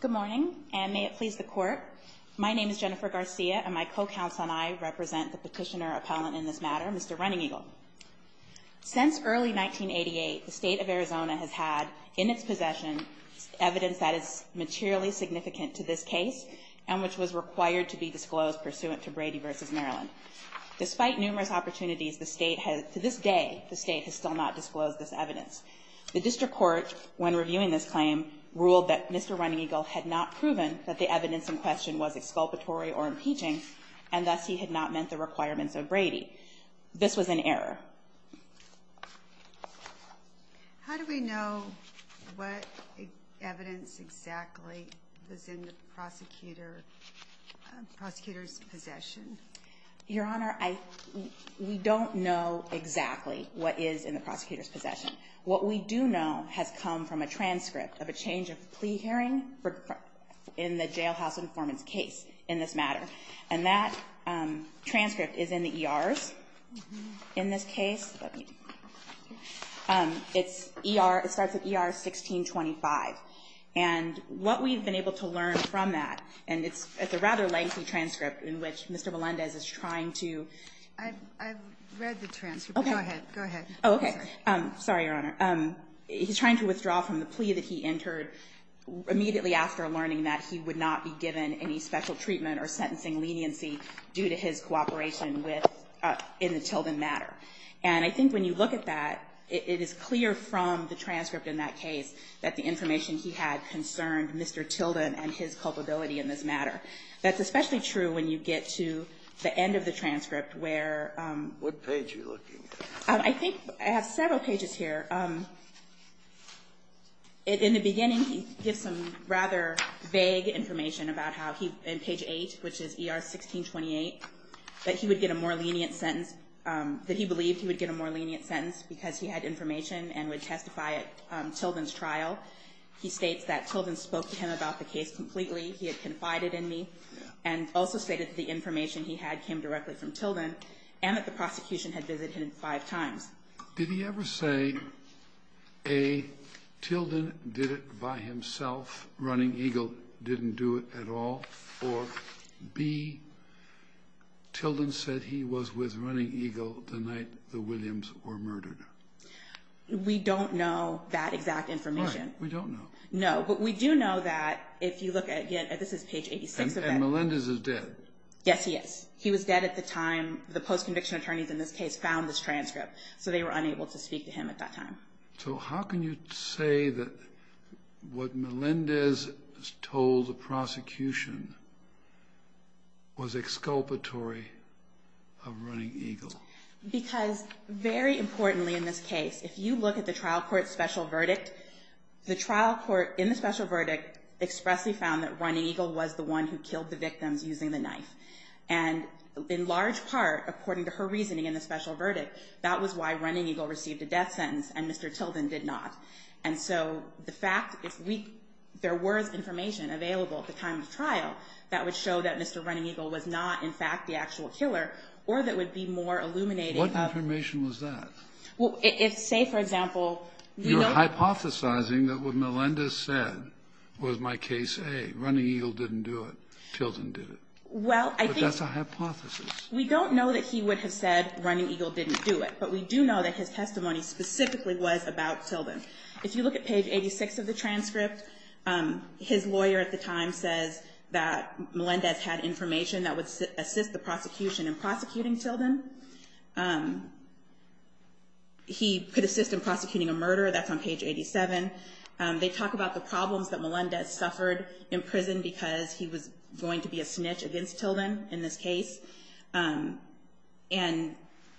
Good morning, and may it please the Court, my name is Jennifer Garcia, and my co-counsel and I represent the petitioner appellant in this matter, Mr. Running Eagle. Since early 1988, the state of Arizona has had in its possession evidence that is materially significant to this case, and which was required to be disclosed pursuant to Brady v. Maryland. Despite numerous opportunities, the state has, to this day, the state has still not disclosed this evidence. The district court, when reviewing this claim, ruled that Mr. Running Eagle had not proven that the evidence in question was exculpatory or impeaching, and thus he had not met the requirements of Brady. This was an error. How do we know what evidence exactly was in the prosecutor's possession? Your Honor, we don't know exactly what is in the prosecutor's possession. What we do know has come from a transcript of a change of plea hearing in the jailhouse informant's case in this matter, and that transcript is in the ER. In this case, it's ER 1625. And what we've been able to learn from that, and it's a rather lengthy transcript in which Mr. Melendez is trying to... I've read the transcript. Go ahead. Okay. Sorry, Your Honor. He's trying to withdraw from the plea that he entered immediately after learning that he would not be given any special treatment or sentencing leniency due to his cooperation in the Tilden matter. And I think when you look at that, it is clear from the transcript in that case that the information he had concerned Mr. Tilden and his culpability in this matter. That's especially true when you get to the end of the transcript where... What page are you looking at? I think I have several pages here. In the beginning, he gives some rather vague information about how he... In page 8, which is ER 1628, that he would get a more lenient sentence... That he believed he would get a more lenient sentence because he had information and would testify at Tilden's trial. He states that Tilden spoke to him about the case completely. He had confided in me and also stated that the information he had came directly from Tilden and that the prosecution had visited him five times. Did he ever say, A, Tilden did it by himself, Running Eagle didn't do it at all, or B, Tilden said he was with Running Eagle the night the Williams were murdered? We don't know that exact information. All right. We don't know. No, but we do know that if you look at, again, this is page 86... And Melendez is dead. Yes, he is. He was dead at the time the post-conviction attorneys in this case found this transcript. So they were unable to speak to him at that time. So how can you say that what Melendez told the prosecution was exculpatory of Running Eagle? Because, very importantly in this case, if you look at the trial court special verdict, the trial court in the special verdict expressly found that Running Eagle was the one who killed the victim using the knife. And in large part, according to her reasoning in the special verdict, that was why Running Eagle received a death sentence and Mr. Tilden did not. And so the fact that there was information available at the time of the trial that would show that Mr. Running Eagle was not, in fact, the actual killer, or that would be more illuminating... What information was that? Say, for example... You're hypothesizing that what Melendez said was my case A, Running Eagle didn't do it, Tilden did it. Well, I think... But that's a hypothesis. We don't know that he would have said Running Eagle didn't do it, but we do know that his testimony specifically was about Tilden. If you look at page 86 of the transcript, his lawyer at the time said that Melendez had information that would assist the prosecution in prosecuting Tilden. He could assist in prosecuting a murder. That's on page 87. They talk about the problems that Melendez suffered in prison because he was going to be a snitch against Tilden in this case. And...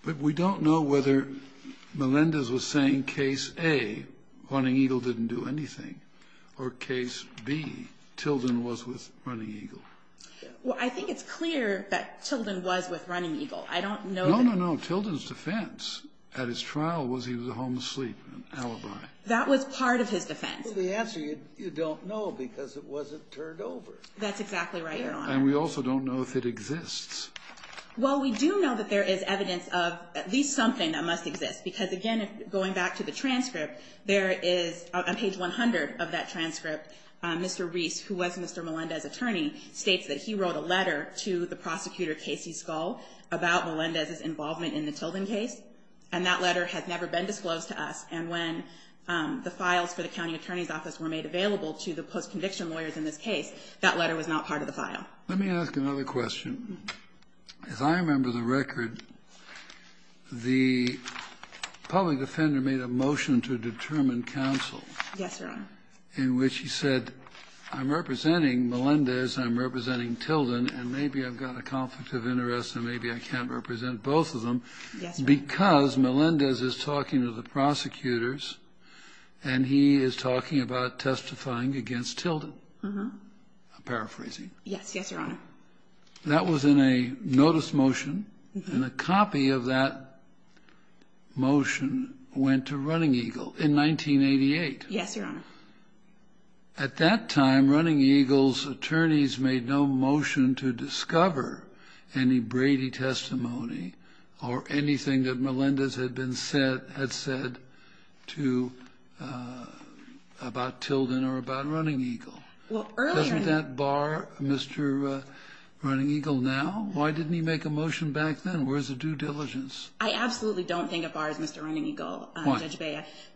But we don't know whether Melendez was saying case A, Running Eagle didn't do anything, or case B, Tilden was with Running Eagle. Well, I think it's clear that Tilden was with Running Eagle. I don't know that... No, no, no. Tilden's defense at his trial was he was a home-asleep alibi. That was part of his defense. Well, the answer is you don't know because it wasn't turned over. That's exactly right, Your Honor. And we also don't know if it exists. Well, we do know that there is evidence of at least something that must exist because, again, going back to the transcript, there is... On page 100 of that transcript, Mr. Reiss, who was Mr. Melendez's attorney, states that he wrote a letter to the prosecutor, Casey Scull, about Melendez's involvement in the Tilden case. And that letter has never been disclosed to us. And when the files for the county attorney's office were made available to the post-conviction lawyers in this case, that letter was not part of the file. Let me ask another question. If I remember the record, the public defender made a motion to determine counsel... Yes, Your Honor. ...in which he said, I'm representing Melendez, I'm representing Tilden, and maybe I've got a conflict of interest and maybe I can't represent both of them... Yes, Your Honor. ...because Melendez is talking to the prosecutors and he is talking about testifying against Tilden. I'm paraphrasing. Yes, Your Honor. That was in a notice motion, and a copy of that motion went to Running Eagle in 1988. Yes, Your Honor. At that time, Running Eagle's attorneys made no motion to discover any Brady testimony or anything that Melendez had said about Tilden or about Running Eagle. Well, earlier... Doesn't that bar Mr. Running Eagle now? Why didn't he make a motion back then? Where's the due diligence? I absolutely don't think it bars Mr. Running Eagle. Why?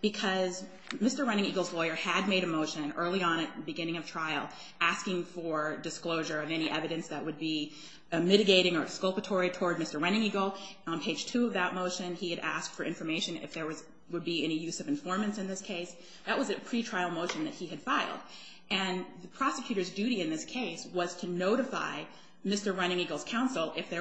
Because Mr. Running Eagle's lawyer had made a motion early on at the beginning of trial asking for disclosure of any evidence that would be mitigating or exculpatory toward Mr. Running Eagle. On page 2 of that motion, he had asked for information if there would be any use of informants in this case. That was a pretrial motion that he had filed. And the prosecutor's duty in this case was to notify Mr. Running Eagle's counsel if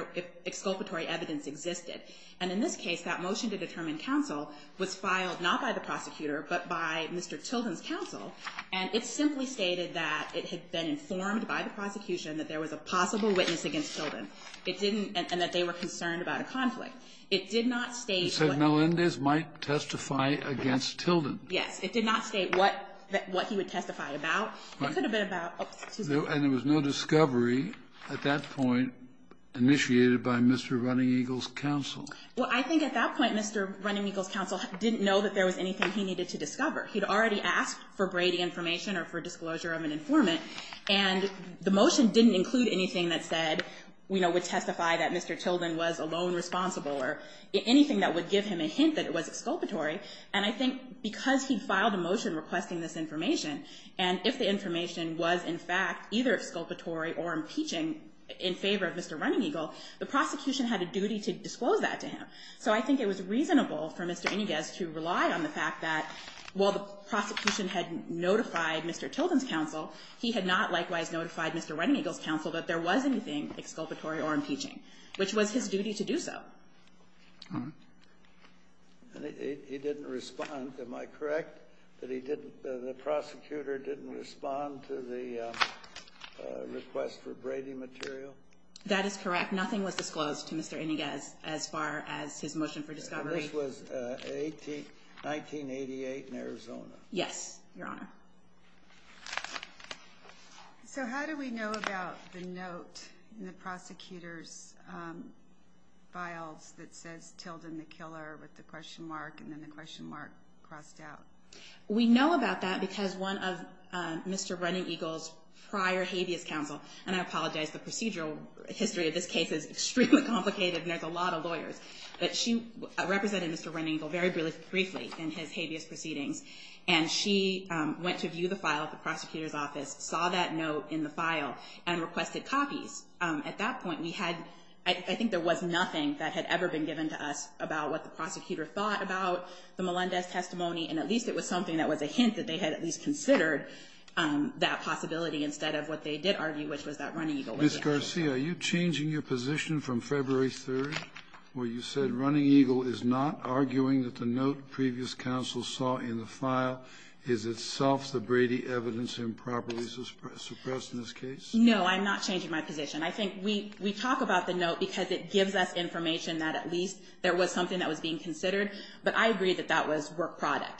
exculpatory evidence existed. And in this case, that motion to determine counsel was filed not by the prosecutor but by Mr. Tilden's counsel. And it simply stated that it had been informed by the prosecution that there was a possible witness against Tilden and that they were concerned about a conflict. It did not state... It said Melendez might testify against Tilden. Yes. It did not state what he would testify about. And there was no discovery at that point initiated by Mr. Running Eagle's counsel. Well, I think at that point, Mr. Running Eagle's counsel didn't know that there was anything he needed to discover. He had already asked for Brady information or for disclosure of an informant. And the motion didn't include anything that said, you know, would testify that Mr. Tilden was alone responsible or anything that would give him a hint that it was exculpatory. And I think because he filed a motion requesting this information, and if the information was, in fact, either exculpatory or impeaching in favor of Mr. Running Eagle, the prosecution had a duty to disclose that to him. So I think it was reasonable for Mr. Inouye to rely on the fact that while the prosecution had notified Mr. Tilden's counsel, he had not likewise notified Mr. Running Eagle's counsel that there was anything exculpatory or impeaching, which was his duty to do so. He didn't respond. Am I correct that the prosecutor didn't respond to the request for Brady material? That is correct. Nothing was disclosed to Mr. Inouye as far as his motion for discovery. And this was 1988 in Arizona? Yes, Your Honor. So how do we know about the note in the prosecutor's file that says Tilden the killer with the question mark and then the question mark crossed out? We know about that because one of Mr. Running Eagle's prior habeas counsel, and I apologize, the procedural history of this case is extremely complicated and there's a lot of lawyers, but she represented Mr. Running Eagle very briefly in his habeas proceeding. And she went to view the file at the prosecutor's office, saw that note in the file, and requested copies. At that point, we had – I think there was nothing that had ever been given to us about what the prosecutor thought about the Melendez testimony, and at least it was something that was a hint that they had at least considered that possibility instead of what they did argue, which was that Running Eagle – Ms. Garcia, are you changing your position from February 3rd where you said Running Eagle is not arguing that the note previous counsel saw in the file is itself the Brady evidence improperly suppressed in this case? No, I'm not changing my position. I think we talk about the note because it gives us information that at least there was something that was being considered, but I agree that that was work product.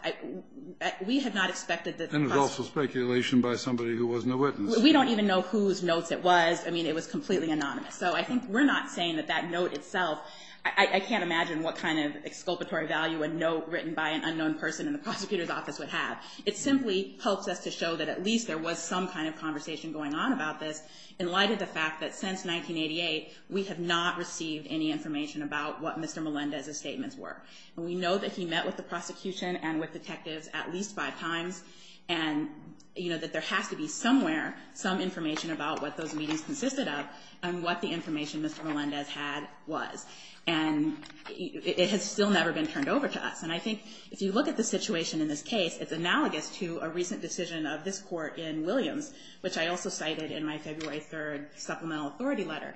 We have not expected this – And it's also speculation by somebody who wasn't a witness. We don't even know whose note it was. I mean, it was completely anonymous. So I think we're not saying that that note itself – I can't imagine what kind of exculpatory value a note written by an unknown person in the prosecutor's office would have. It simply helps us to show that at least there was some kind of conversation going on about this in light of the fact that since 1988, we have not received any information about what Mr. Melendez's statements were. We know that he met with the prosecution and with detectives at least five times and that there has to be somewhere some information about what those meetings consisted of and what the information Mr. Melendez had was. And it has still never been turned over to us. And I think if you look at the situation in this case, it's analogous to a recent decision of this court in Williams, which I also cited in my February 3rd supplemental authority letter.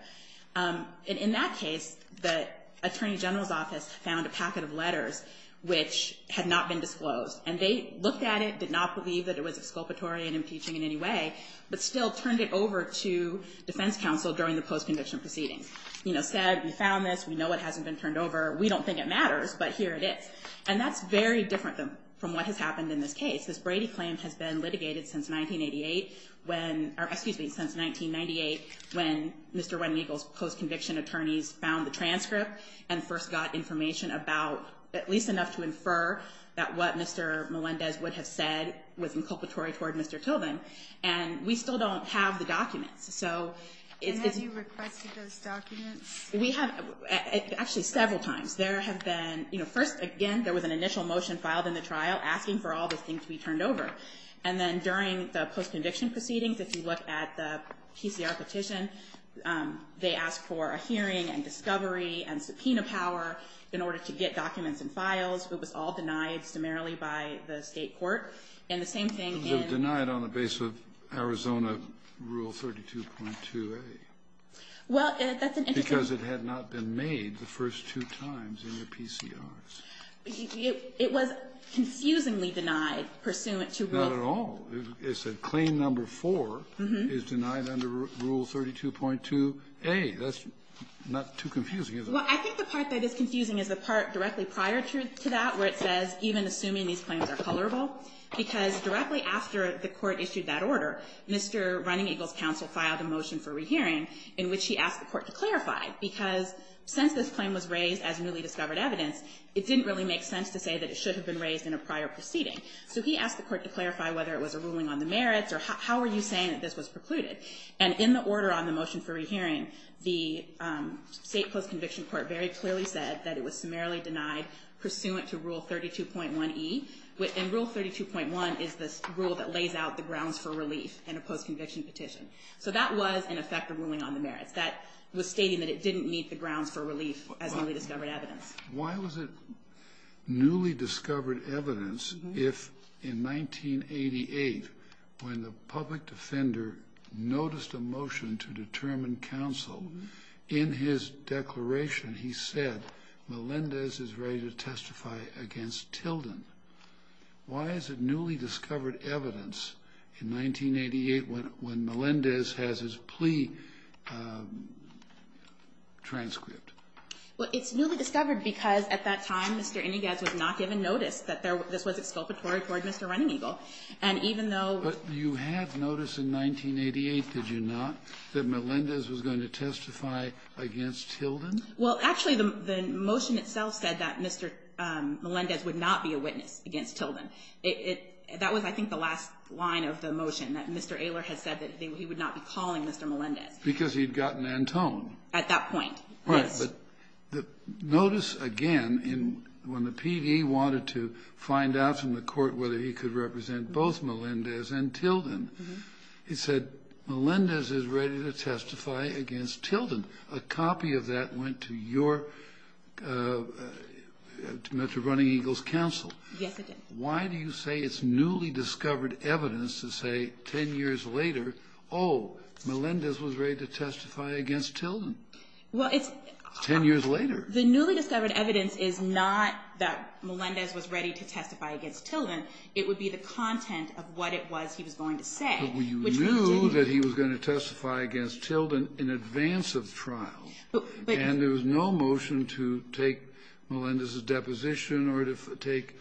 And in that case, the attorney general's office found a packet of letters which had not been disclosed. And they looked at it, did not believe that it was exculpatory and impeaching in any way, but still turned it over to defense counsel during the post-conviction proceeding. Said, we found this. We know it hasn't been turned over. We don't think it matters, but here it is. And that's very different from what has happened in this case. This Brady claim has been litigated since 1988 when – or excuse me, since 1998 when Mr. Wedding Eagle's post-conviction attorneys found the transcript and first got information about at least enough to infer that what Mr. Melendez would have said was inculpatory toward Mr. Tilden. And we still don't have the document. And have you requested those documents? We have – actually, several times. There have been – you know, first, again, there was an initial motion filed in the trial asking for all the things to be turned over. And then during the post-conviction proceedings, if you look at the PPR petition, they asked for a hearing and discovery and subpoena power in order to get documents and files. It was all denied primarily by the state court. And the same thing in – It was denied on the basis of Arizona Rule 32.2a. Well, that's an interesting – Because it had not been made the first two times in the PCRs. It was confusingly denied pursuant to – Not at all. It said claim number four is denied under Rule 32.2a. That's not too confusing, is it? Well, I think the part that is confusing is the part directly prior to that where it says even assuming these claims are colorable. Because directly after the court issued that order, Mr. Running Eagle's counsel filed a motion for rehearing in which he asked the court to clarify. Because since this claim was raised as newly discovered evidence, it didn't really make sense to say that it should have been raised in a prior proceeding. So he asked the court to clarify whether it was a ruling on the merits or how are you saying that this was precluded. And in the order on the motion for rehearing, the state post-conviction court very clearly said that it was merely denied pursuant to Rule 32.1e. And Rule 32.1 is the rule that lays out the grounds for relief in a post-conviction petition. So that was, in effect, a ruling on the merits. That was stating that it didn't meet the grounds for relief as newly discovered evidence. Why was it newly discovered evidence if, in 1988, when the public defender noticed a motion to determine counsel, in his declaration he said, Melendez is ready to testify against Tilden. Why is it newly discovered evidence in 1988 when Melendez has his plea transcript? Well, it's newly discovered because, at that time, Mr. Eniguez was not given notice that this was exculpatory toward Mr. Running Eagle. But you had notice in 1988, did you not, that Melendez was going to testify against Tilden? Well, actually, the motion itself said that Mr. Melendez would not be a witness against Tilden. That was, I think, the last line of the motion, that Mr. Ehler had said that he would not be calling Mr. Melendez. Because he'd gotten Antone. At that point. Right. But notice, again, when the PD wanted to find out from the court whether he could represent both Melendez and Tilden, it said, Melendez is ready to testify against Tilden. A copy of that went to your Mr. Running Eagle's counsel. Yes, it did. Why do you say it's newly discovered evidence to say ten years later, oh, Melendez was ready to testify against Tilden? Ten years later. The newly discovered evidence is not that Melendez was ready to testify against Tilden. It would be the content of what it was he was going to say. But you knew that he was going to testify against Tilden in advance of trial. And there was no motion to take Melendez's deposition or to take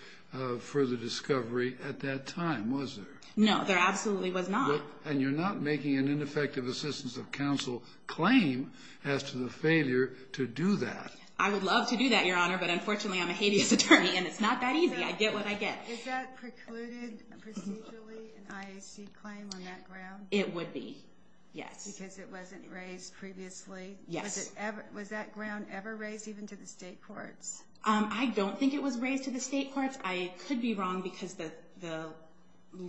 further discovery at that time, was there? No, there absolutely was not. And you're not making an ineffective assistance of counsel claim as to the failure to do that. I would love to do that, Your Honor, but unfortunately, I'm a habeas attorney, and it's not that easy. I get what I get. Is that precluded procedurally, an IHC claim on that ground? It would be, yes. Because it wasn't raised previously? Yes. Was that ground ever raised, even to the state court? I don't think it was raised to the state court. I could be wrong because the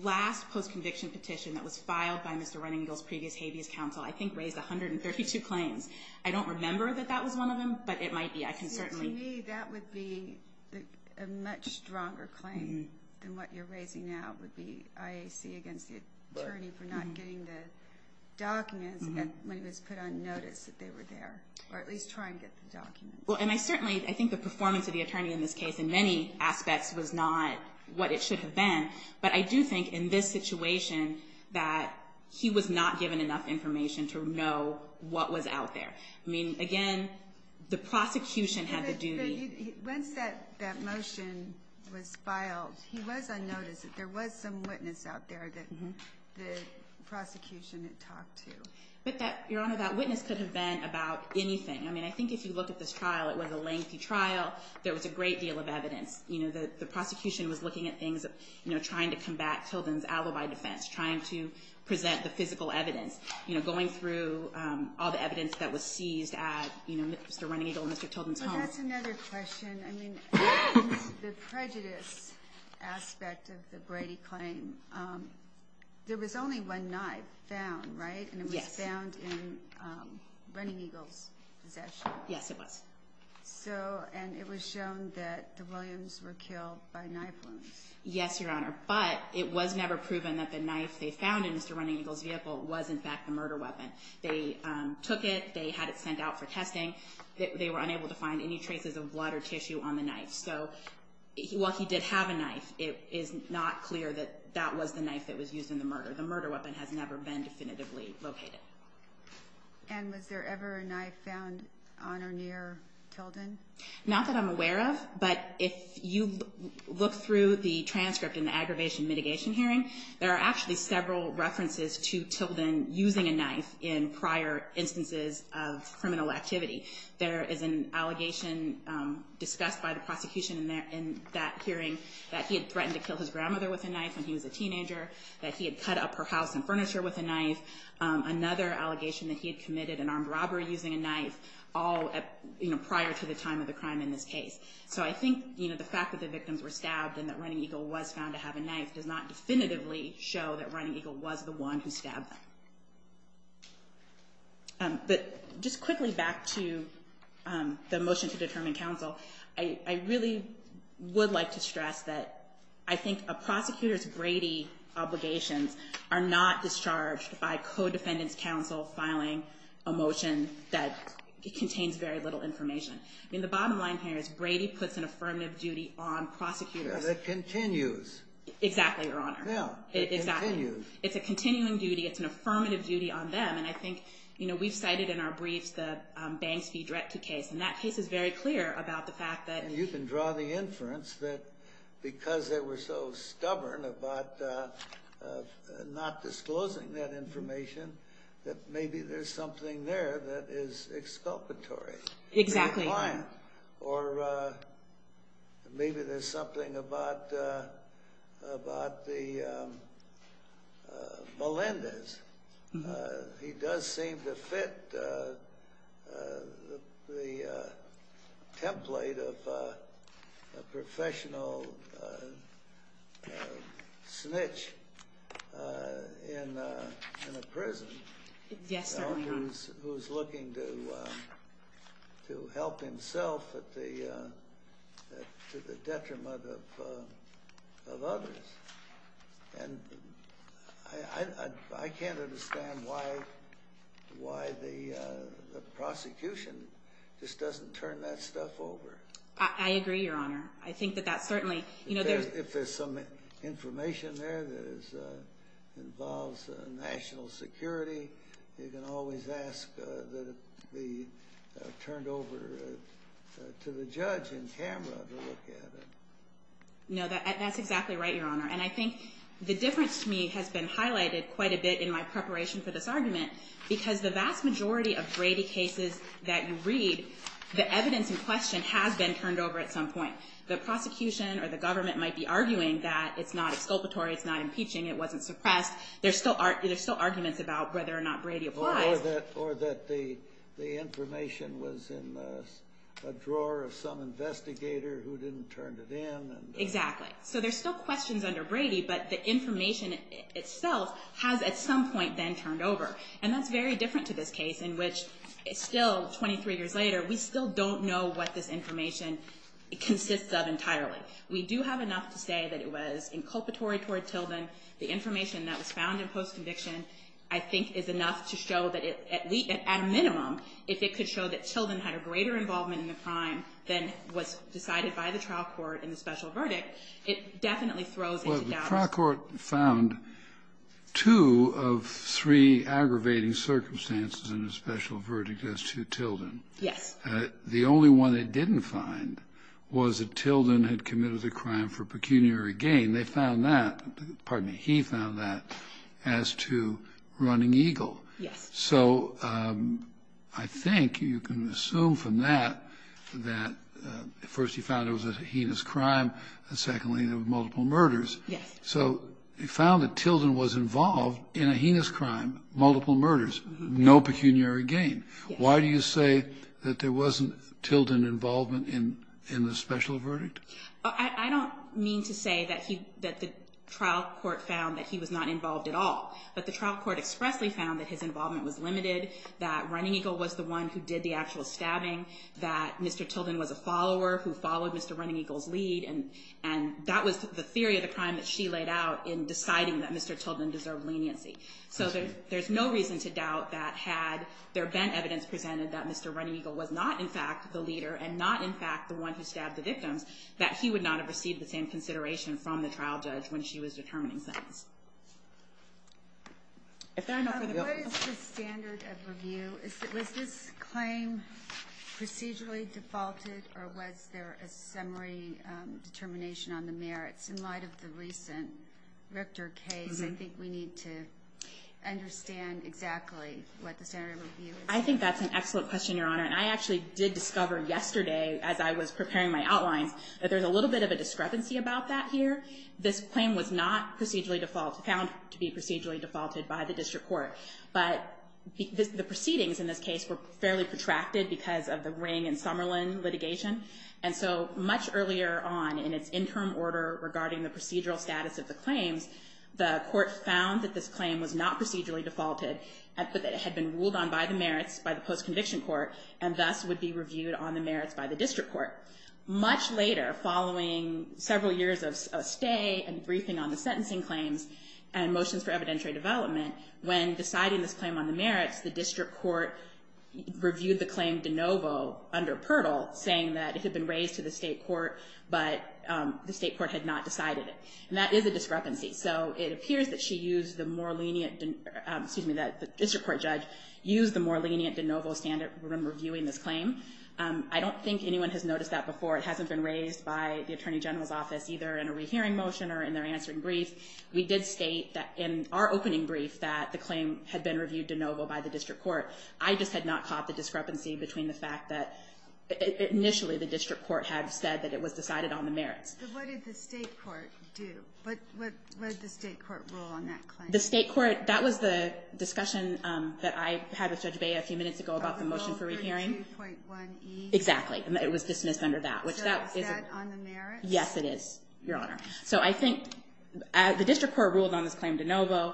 last post-conviction petition that was filed by Mr. Running Bill's previous habeas counsel, I think, raised 132 claims. I don't remember that that was one of them, but it might be. To me, that would be a much stronger claim than what you're raising now, with the IHC against the attorney for not getting the documents that Melendez put on notice that they were there, or at least trying to get the documents. Well, and I certainly think the performance of the attorney in this case in many aspects was not what it should have been. But I do think in this situation that he was not given enough information to know what was out there. I mean, again, the prosecution has a duty. So once that motion was filed, he was unnoticed. There was some witness out there that the prosecution had talked to. Your Honor, that witness could have been about anything. I mean, I think if you look at this trial, it was a lengthy trial. There was a great deal of evidence. The prosecution was looking at things, trying to combat children's alibi defense, trying to present the physical evidence, going through all the evidence that was seized at Mr. Running Eagle and Mr. Children's home. But that's another question. I mean, the prejudice aspect of the Brady claim, there was only one knife found, right? And it was found in Running Eagle's possession. Yes, it was. And it was shown that the Williams were killed by knife wounds. Yes, Your Honor. But it was never proven that the knife they found in Mr. Running Eagle's vehicle was, in fact, a murder weapon. They took it. They had it sent out for testing. They were unable to find any traces of blood or tissue on the knife. So while he did have a knife, it is not clear that that was the knife that was used in the murder. The murder weapon has never been definitively located. And was there ever a knife found on or near Children? Not that I'm aware of. But if you look through the transcript in the aggravation mitigation hearing, there are actually several references to children using a knife in prior instances of criminal activity. There is an allegation discussed by the prosecution in that hearing that he had threatened to kill his grandmother with a knife when he was a teenager, that he had cut up her house and furniture with a knife, another allegation that he had committed an armed robbery using a knife all prior to the time of the crime in this case. So I think the fact that the victims were stabbed and that Running Eagle was found to have a knife does not definitively show that Running Eagle was the one who stabbed them. But just quickly back to the motion to determine counsel, I really would like to stress that I think a prosecutor's Brady obligations are not discharged by co-defendant counsel filing a motion that contains very little information. I mean, the bottom line here is Brady puts an affirmative duty on prosecutors. And it continues. Exactly, Your Honor. It continues. It's a continuing duty. It's an affirmative duty on them. And I think, you know, we cited in our brief the Banks v. Drexel case. And that case is very clear about the fact that… You can draw the inference that because they were so stubborn about not disclosing that information, that maybe there's something there that is exculpatory. Exactly. Or maybe there's something about the Melendez. He does seem to fit the template of a professional snitch in a prison who's looking to help himself to the detriment of others. And I can't understand why the prosecution just doesn't turn that stuff over. I agree, Your Honor. I think that that certainly… If there's some information there that involves national security, you can always ask to be turned over to the judge in camera to look at it. No, that's exactly right, Your Honor. And I think the difference to me has been highlighted quite a bit in my preparation for this argument because the vast majority of Brady cases that you read, the evidence in question has been turned over at some point. The prosecution or the government might be arguing that it's not exculpatory, it's not impeaching, it wasn't suppressed. There's still arguments about whether or not Brady applied. Or that the information was in a drawer of some investigator who didn't turn it in. Exactly. So there's still questions under Brady, but the information itself has at some point been turned over. And that's very different to this case in which it's still 23 years later. We still don't know what this information consists of entirely. We do have enough to say that it was inculpatory toward Tilden. The information that was found in post-conviction, I think, is enough to show that at a minimum, if it could show that Tilden had a greater involvement in the crime than was decided by the trial court in the special verdict, it definitely throws it down. Well, the trial court found two of three aggravating circumstances in the special verdict as to Tilden. Yes. The only one they didn't find was that Tilden had committed the crime for pecuniary gain. They found that, pardon me, he found that as to running Eagle. Yes. So I think you can assume from that that first he found it was a heinous crime, and secondly there were multiple murders. Yes. So they found that Tilden was involved in a heinous crime, multiple murders, no pecuniary gain. Yes. So why do you say that there wasn't Tilden involvement in the special verdict? I don't mean to say that the trial court found that he was not involved at all, but the trial court expressly found that his involvement was limited, that running Eagle was the one who did the actual stabbing, that Mr. Tilden was a follower who followed Mr. running Eagle's lead, and that was the theory of the crime that she laid out in deciding that Mr. Tilden deserved leniency. So there's no reason to doubt that had there been evidence presented that Mr. running Eagle was not, in fact, the leader and not, in fact, the one who stabbed the victim, that she would not have received the same consideration from the trial judge when she was determining things. Is there another? What is the standard of review? Was this claim procedurally defaulted or was there a summary determination on the merits? In light of the recent Richter case, I think we need to understand exactly what the standard of review is. I think that's an excellent question, Your Honor, and I actually did discover yesterday as I was preparing my outline that there's a little bit of a discrepancy about that here. This claim was not found to be procedurally defaulted by the district court, but the proceedings in this case were fairly protracted because of the Ring and Summerlin litigation, and so much earlier on in its interim order regarding the procedural status of the claim, the court found that this claim was not procedurally defaulted as it had been ruled on by the merits by the post-conviction court and thus would be reviewed on the merits by the district court. Much later, following several years of stay and briefing on the sentencing claims and motions for evidentiary development, when deciding this claim on the merits, the district court reviewed the claim de novo under PIRTL, saying that it had been raised to the state court, but the state court had not decided it, and that is a discrepancy. So it appears that the district court judge used the more lenient de novo standard when reviewing this claim. I don't think anyone has noticed that before. It hasn't been raised by the attorney general's office either in a rehearing motion or in their answering brief. We did state that in our opening brief that the claim had been reviewed de novo by the district court. I just had not caught the discrepancy between the fact that initially the district court had said that it was decided on the merits. So what did the state court do? What did the state court rule on that claim? The state court, that was the discussion that I had with Judge Bay a few minutes ago about the motion for a hearing. Article 32.1E? Exactly. It was dismissed under that. Is that on the merits? Yes, it is, Your Honor. So I think as the district court ruled on this claim de novo,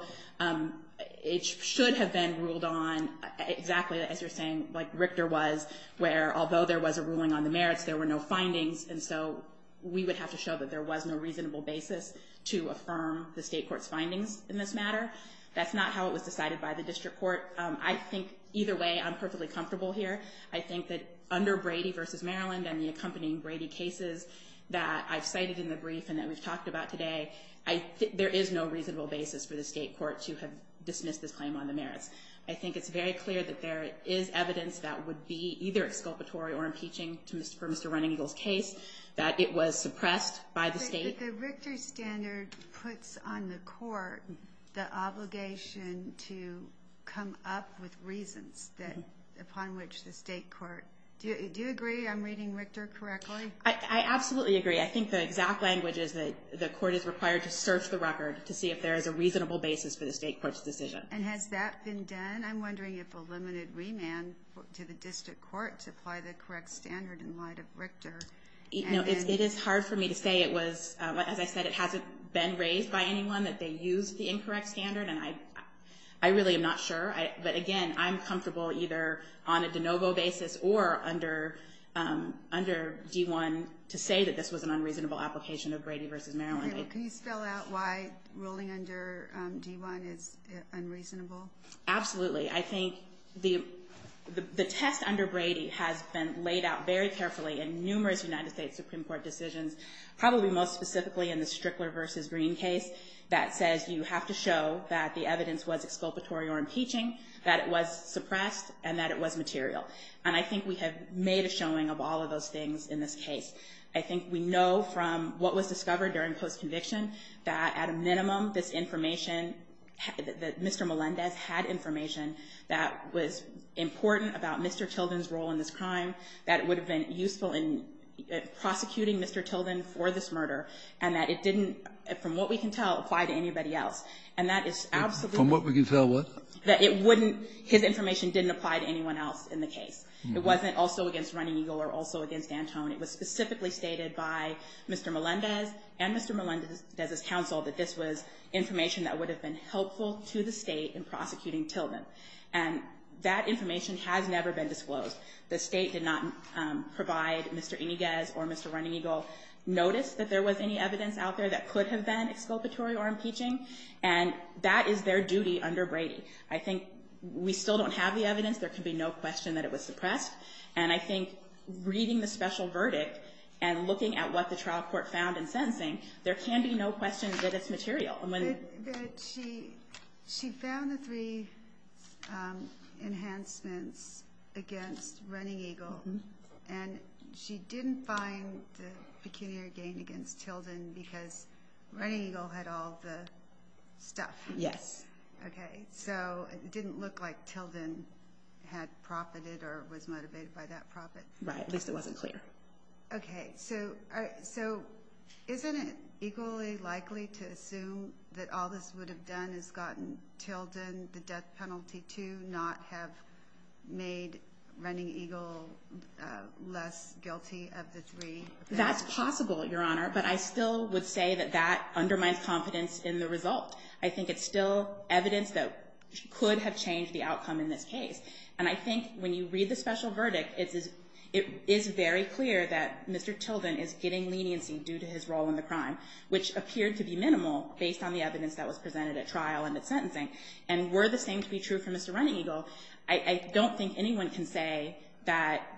it should have been ruled on exactly as you're saying, like Richter was, where although there was a ruling on the merits, there were no findings, and so we would have to show that there was no reasonable basis to affirm the state court's findings in this matter. That's not how it was decided by the district court. I think either way I'm perfectly comfortable here. I think that under Brady v. Maryland and the accompanying Brady cases that I've cited in the brief and that was talked about today, there is no reasonable basis for the state court to have dismissed this claim on the merits. I think it's very clear that there is evidence that would be either exculpatory or impeaching to Mr. Do you agree I'm reading Richter correctly? I absolutely agree. I think the exact language is that the court is required to search the record to see if there is a reasonable basis for the state court's decision. And has that been done? I'm wondering if a limited remand to the district court to apply the correct standard in light of Richter. It is hard for me to say. It was, as I said, it hasn't been raised by anyone that they used the incorrect standard, and I really am not sure. But, again, I'm comfortable either on a de novo basis or under D-1 to say that this was an unreasonable application of Brady v. Maryland. Can you spell out why ruling under D-1 is unreasonable? Absolutely. I think the test under Brady has been laid out very carefully in numerous United States Supreme Court decisions, probably most specifically in the Strickler v. Green case that says you have to show that the evidence was exculpatory or impeaching, that it was suppressed, and that it was material. And I think we have made a showing of all of those things in this case. I think we know from what was discovered during post-conviction that, at a minimum, this information, that Mr. Melendez had information that was important about Mr. Tilden's role in this crime, that it would have been useful in prosecuting Mr. Tilden for this murder, and that it didn't, from what we can tell, apply to anybody else. And that is absolutely true. From what we can tell what? That it wouldn't, his information didn't apply to anyone else in the case. It wasn't also against Running Eagle or also against Antone. It was specifically stated by Mr. Melendez and Mr. Melendez's counsel that this was information that would have been helpful to the state in prosecuting Tilden. And that information has never been disclosed. The state did not provide Mr. Iniguez or Mr. Running Eagle notice that there was any evidence out there that could have been exculpatory or impeaching, and that is their duty under Brady. I think we still don't have the evidence. There could be no question that it was suppressed. And I think reading the special verdict and looking at what the trial court found in sentencing, there can be no question that it's material. She found the three enhancements against Running Eagle, and she didn't find the pecuniary gain against Tilden because Running Eagle had all the stuff. Yes. Okay. So it didn't look like Tilden had profited or was motivated by that profit. Right. At least it wasn't clear. Okay. So isn't it equally likely to assume that all this would have done is gotten Tilden the death penalty too, not have made Running Eagle less guilty of this reading? That's possible, Your Honor. But I still would say that that undermines confidence in the result. I think it's still evidence that could have changed the outcome in this case. And I think when you read the special verdict, it is very clear that Mr. Tilden is getting leniency due to his role in the crime, which appeared to be minimal based on the evidence that was presented at trial and at sentencing. And were the same to be true for Mr. Running Eagle, I don't think anyone can say that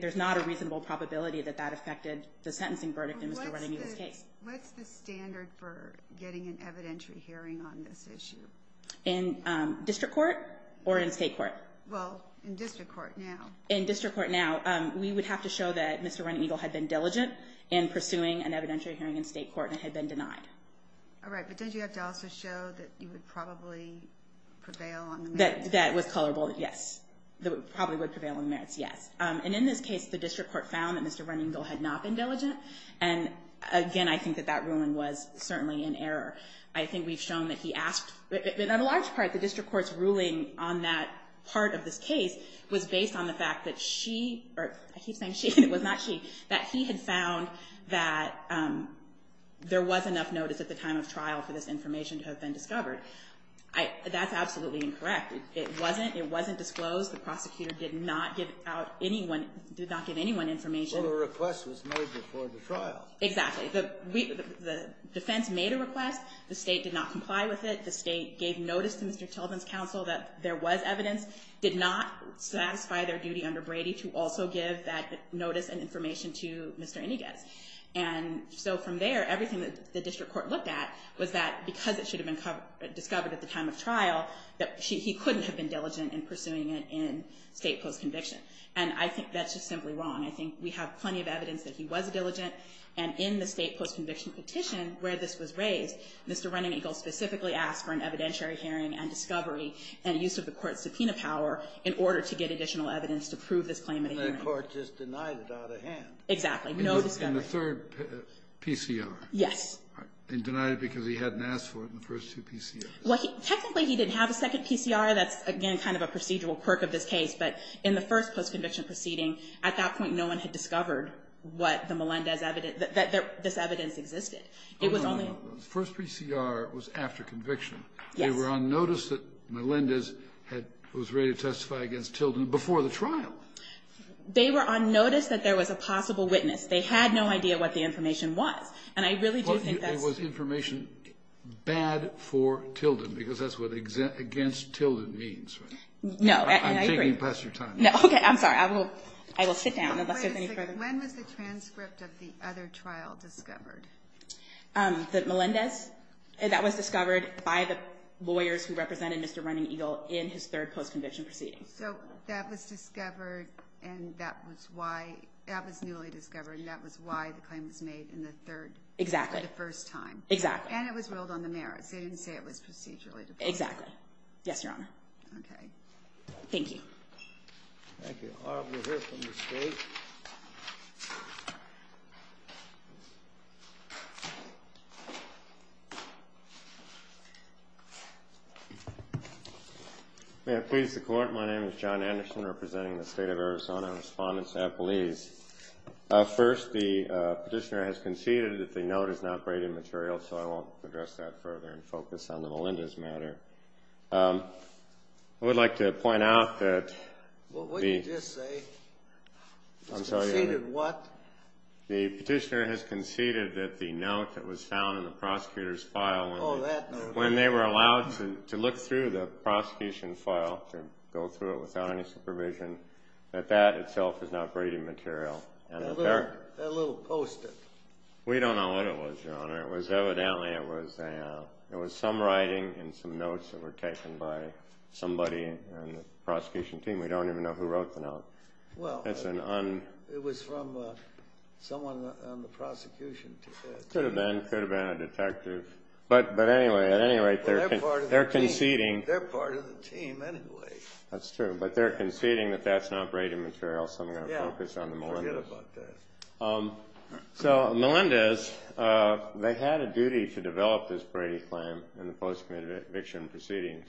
there's not a reasonable probability that that affected the sentencing verdict in Mr. Running Eagle's case. Okay. What's the standard for getting an evidentiary hearing on this issue? In district court or in state court? Well, in district court now. In district court now, we would have to show that Mr. Running Eagle had been diligent in pursuing an evidentiary hearing in state court and had been denied. All right. But then do you have to also show that he would probably prevail on the merits? That would probably prevail on the merits, yes. And in this case, the district court found that Mr. Running Eagle had not been diligent. And, again, I think that that ruling was certainly in error. I think we've shown that he asked. In a large part, the district court's ruling on that part of this case was based on the fact that she or he said she, it was not she, that he had found that there was enough notice at the time of trial for this information to have been discovered. That's absolutely incorrect. It wasn't. It wasn't disclosed. The prosecutor did not give out anyone, did not give anyone information. Well, the request was made before the trial. Exactly. The defense made a request. The state did not comply with it. The state gave notice to Mr. Sullivan's counsel that there was evidence, did not satisfy their duty under Brady to also give that notice and information to Mr. Iniget. And so from there, everything that the district court looked at was that because it should have been discovered at the time of trial, that he couldn't have been diligent in pursuing it in state court conviction. And I think that's just simply wrong. I think we have plenty of evidence that he was diligent. And in the state court conviction petition where this was raised, Mr. Running Eagle specifically asked for an evidentiary hearing and discovery and use of the court's subpoena power in order to get additional evidence to prove this claim. And the court just denied it out of hand. Exactly. In the third PCR. Yes. And denied it because he hadn't asked for it in the first two PCRs. Well, technically, he didn't have a second PCR. That's, again, kind of a procedural quirk of this case. But in the first post-conviction proceeding, at that point, no one had discovered what the Melendez evidence – that this evidence existed. It was only – The first PCR was after conviction. Yes. They were on notice that Melendez was ready to testify against Tilden before the trial. They were on notice that there was a possible witness. They had no idea what the information was. And I really do think that – It was information bad for Tilden because that's what against Tilden means. No. I agree. I'm taking past your time. No. Okay. I'm sorry. I will sit down. When was the transcript of the other trial discovered? The Melendez? That was discovered by the lawyers who represented Mr. Running Eagle in his third post-conviction proceeding. So that was discovered and that was why – that was newly discovered and that was why the claim was made in the third – Exactly. – the first time. Exactly. And it was ruled on the merits. They didn't say it was procedurally discovered. Exactly. Yes, Your Honor. Okay. Thank you. Thank you. We'll hear from the state. May I please the Court? My name is John Anderson representing the State of Arizona Respondents Appellees. First, the petitioner has conceded that the note is not braided material, so I won't address that further and focus on the Melendez matter. I would like to point out that the – Well, what did you just say? I'm sorry. Conceded what? The petitioner has conceded that the note that was found in the prosecutor's file – Oh, that note. – when they were allowed to look through the prosecution file, to go through it without any supervision, that that itself is not braided material. That little poster. We don't know what it was, Your Honor. It was evidently – it was some writing and some notes that were taken by somebody in the prosecution team. We don't even know who wrote the note. Well, it was from someone on the prosecution team. Could have been. Could have been a detective. But anyway, at any rate, they're conceding – They're part of the team. They're part of the team anyway. That's true. But they're conceding that that's not braided material, so I'm going to focus on the Melendez. Yeah, forget about that. So Melendez, they had a duty to develop this Brady plan in the post-conviction proceedings,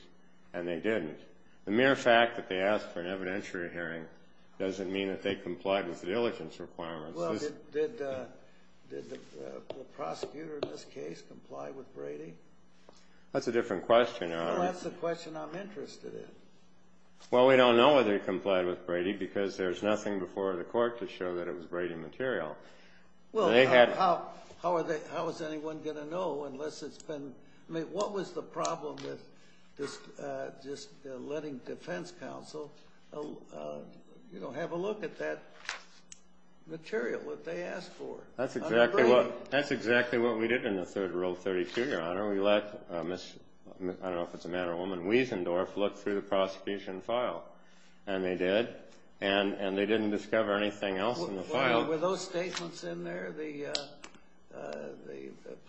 and they didn't. The mere fact that they asked for an evidentiary hearing doesn't mean that they complied with the diligence requirements. Well, did the prosecutor in this case comply with Brady? That's a different question, Your Honor. Well, that's the question I'm interested in. Well, we don't know whether they complied with Brady because there's nothing before the court to show that it was braided material. Well, how is anyone going to know unless it's been – I mean, what was the problem with just letting defense counsel have a look at that material that they asked for? That's exactly what we did in the third rule of 32, Your Honor. We let – I don't know if it's a man or a woman – Wiesendorff look through the prosecution file, and they did, and they didn't discover anything else in the file. Were those statements in there, the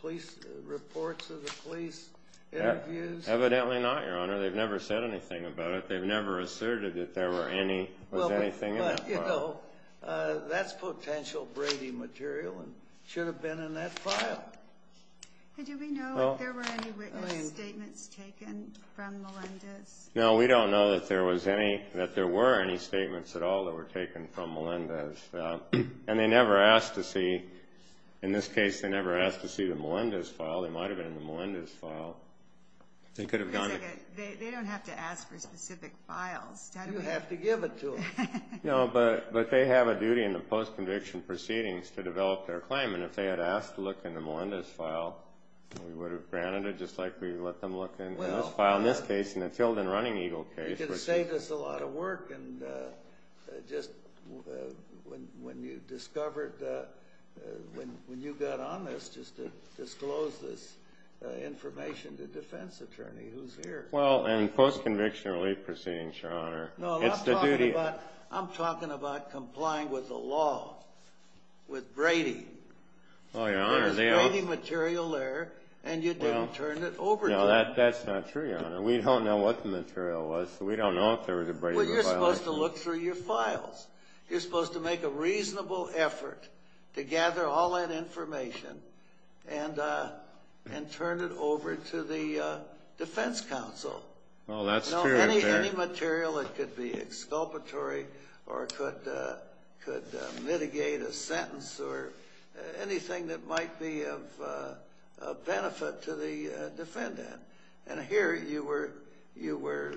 police – reports of the police interviews? Evidently not, Your Honor. They've never said anything about it. They've never asserted that there was anything in that file. But, you know, that's potential Brady material and it should have been in that file. Did we know if there were any written statements taken from Melendez? No, we don't know that there was any – that there were any statements at all that were taken from Melendez. And they never asked to see – in this case, they never asked to see the Melendez file. They might have been in the Melendez file. They don't have to ask for specific files. You don't have to give it to them. No, but they have a duty in the post-conviction proceedings to develop their claim. And if they had asked to look in the Melendez file, we would have granted it just like we let them look in this file, in this case, in the Field and Running Eagle case. You could have saved us a lot of work and just – when you discovered the – when you got on this, just to disclose this information to the defense attorney who's here. Well, in post-conviction relief proceedings, Your Honor, it's the duty – I'm talking about complying with the law, with Brady. Oh, Your Honor, they don't – There's Brady material there, and you didn't turn it over to them. No, that's not true, Your Honor. We don't know what the material was, so we don't know if there was a Brady file. Well, you're supposed to look through your files. You're supposed to make a reasonable effort to gather all that information and turn it over to the defense counsel. Well, that's true. Any material that could be exculpatory or could mitigate a sentence or anything that might be of benefit to the defendant. And here you were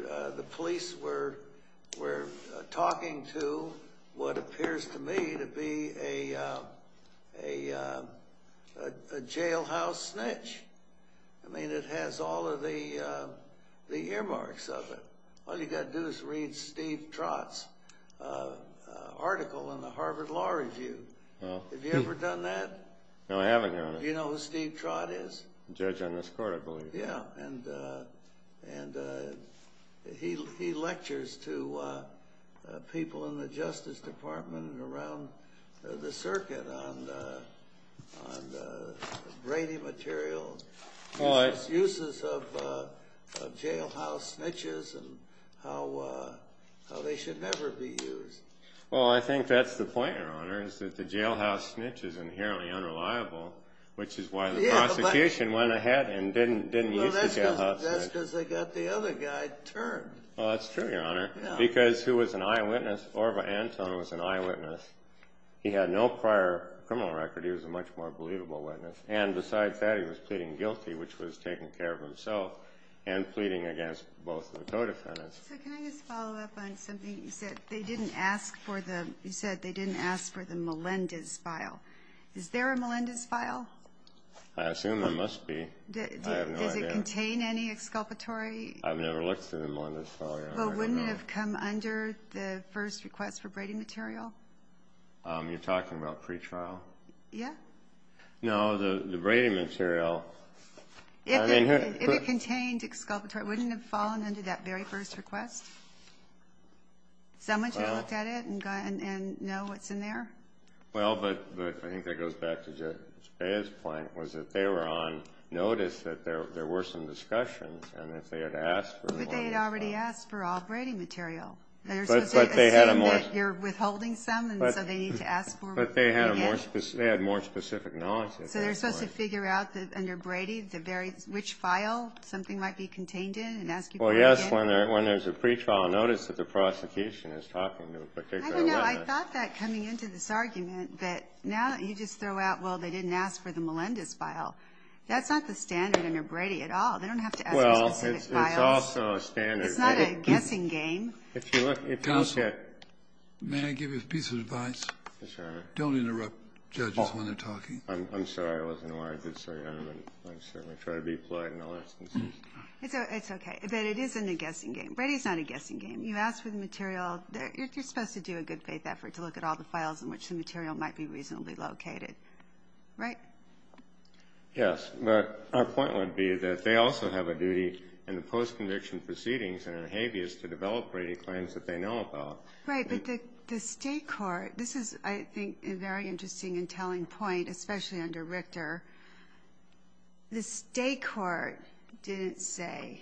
– the police were talking to what appears to me to be a jailhouse snitch. I mean, it has all of the earmarks of it. All you've got to do is read Steve Trott's article in the Harvard Law Review. Have you ever done that? No, I haven't, Your Honor. Do you know who Steve Trott is? Judge on this court, I believe. Yeah, and he lectures to people in the Justice Department and around the circuit on Brady material, uses of jailhouse snitches, and how they should never be used. Well, I think that's the point, Your Honor, is that the jailhouse snitch is inherently unreliable, which is why the prosecution went ahead and didn't reach the jailhouse snitch. Well, that's because they got the other guy turned. Well, that's true, Your Honor, because he was an eyewitness. Orva Anton was an eyewitness. He had no prior criminal record. He was a much more believable witness. And besides that, he was pleading guilty, which was taking care of himself and pleading against both of the co-defendants. So can I just follow up on something you said? You said they didn't ask for the Melendez file. Is there a Melendez file? I assume there must be. I have no idea. Does it contain any exculpatory? I've never looked through the Melendez file, Your Honor. But wouldn't it have come under the first request for Brady material? You're talking about pretrial? Yeah. No, the Brady material. If it contained exculpatory, wouldn't it have fallen under that very first request? Someone should look at it and know what's in there. Well, but I think that goes back to Jay's point, was that they were on notice that there were some discussions and that they had asked for more. But they had already asked for all Brady material. You're withholding some and so they need to ask for more. But they had more specific knowledge. So they're supposed to figure out under Brady which file something might be contained in? Well, yes, when there's a pretrial notice that the prosecution is talking to a particular witness. I don't know. I thought that coming into this argument that now you just throw out, well, they didn't ask for the Melendez file. That's not the standard under Brady at all. They don't have to ask for the Melendez file. Well, it's also a standard. It's not a guessing game. Counsel, may I give you a piece of advice? Yes, Your Honor. Don't interrupt judges when they're talking. I'm sorry. I wasn't aware I did say that. I certainly try to be polite in all instances. It's okay. But it isn't a guessing game. Brady's not a guessing game. You ask for the material. You're supposed to do a good faith effort to look at all the files in which the material might be reasonably located. Right? Yes. But our point would be that they also have a duty in the post-conviction proceedings or in habeas to develop Brady claims that they know about. Right. But the state court, this is, I think, a very interesting and telling point, especially under Richter. The state court didn't say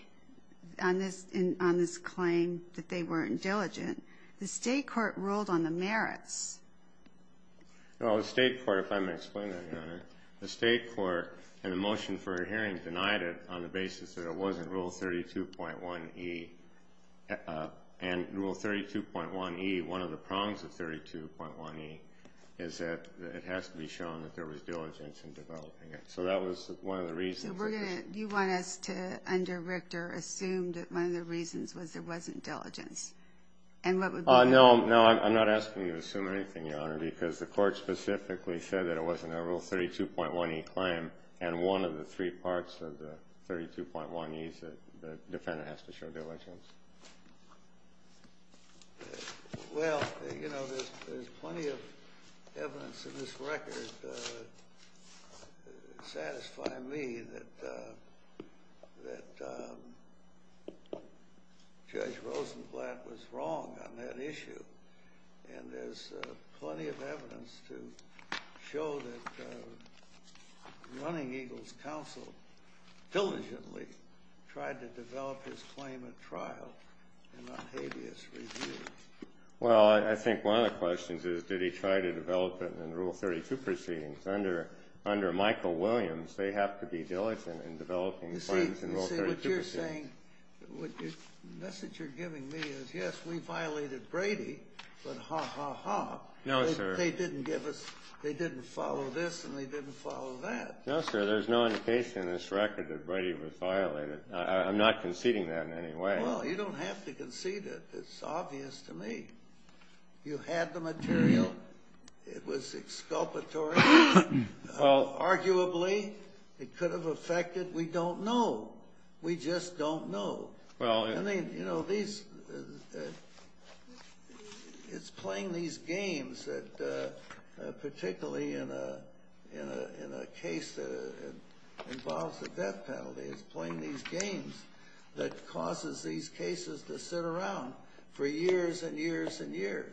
on this claim that they weren't diligent. The state court ruled on the merits. Well, the state court, if I may explain that, Your Honor, the state court in the motion for a hearing denied it on the basis that it wasn't Rule 32.1E. And Rule 32.1E, one of the prongs of 32.1E is that it has to be shown that there was diligence in developing it. So that was one of the reasons. Do you want us to, under Richter, assume that one of the reasons was there wasn't diligence? No, I'm not asking you to assume anything, Your Honor, because the court specifically said that it wasn't a Rule 32.1E claim, and one of the three parts of the 32.1E is that the defendant has to show diligence. Well, you know, there's plenty of evidence in this record to satisfy me that Judge Rosenblatt was wrong on that issue. And there's plenty of evidence to show that Running Eagle's counsel diligently tried to develop his claim at trial and not habeas review. Well, I think one of the questions is, did he try to develop it in Rule 32 proceedings? Under Michael Williams, they have to be diligent in developing claims in Rule 32 proceedings. See, what you're saying, the message you're giving me is, yes, we violated Brady, but ha, ha, ha. No, sir. They didn't give us, they didn't follow this and they didn't follow that. No, sir, there's no indication in this record that Brady was violated. I'm not conceding that in any way. Well, you don't have to concede it. It's obvious to me. You had the material. It was exculpatory. Arguably, it could have affected, we don't know. We just don't know. And, you know, it's playing these games that, particularly in a case that involves a death penalty, it's playing these games that causes these cases to sit around for years and years and years.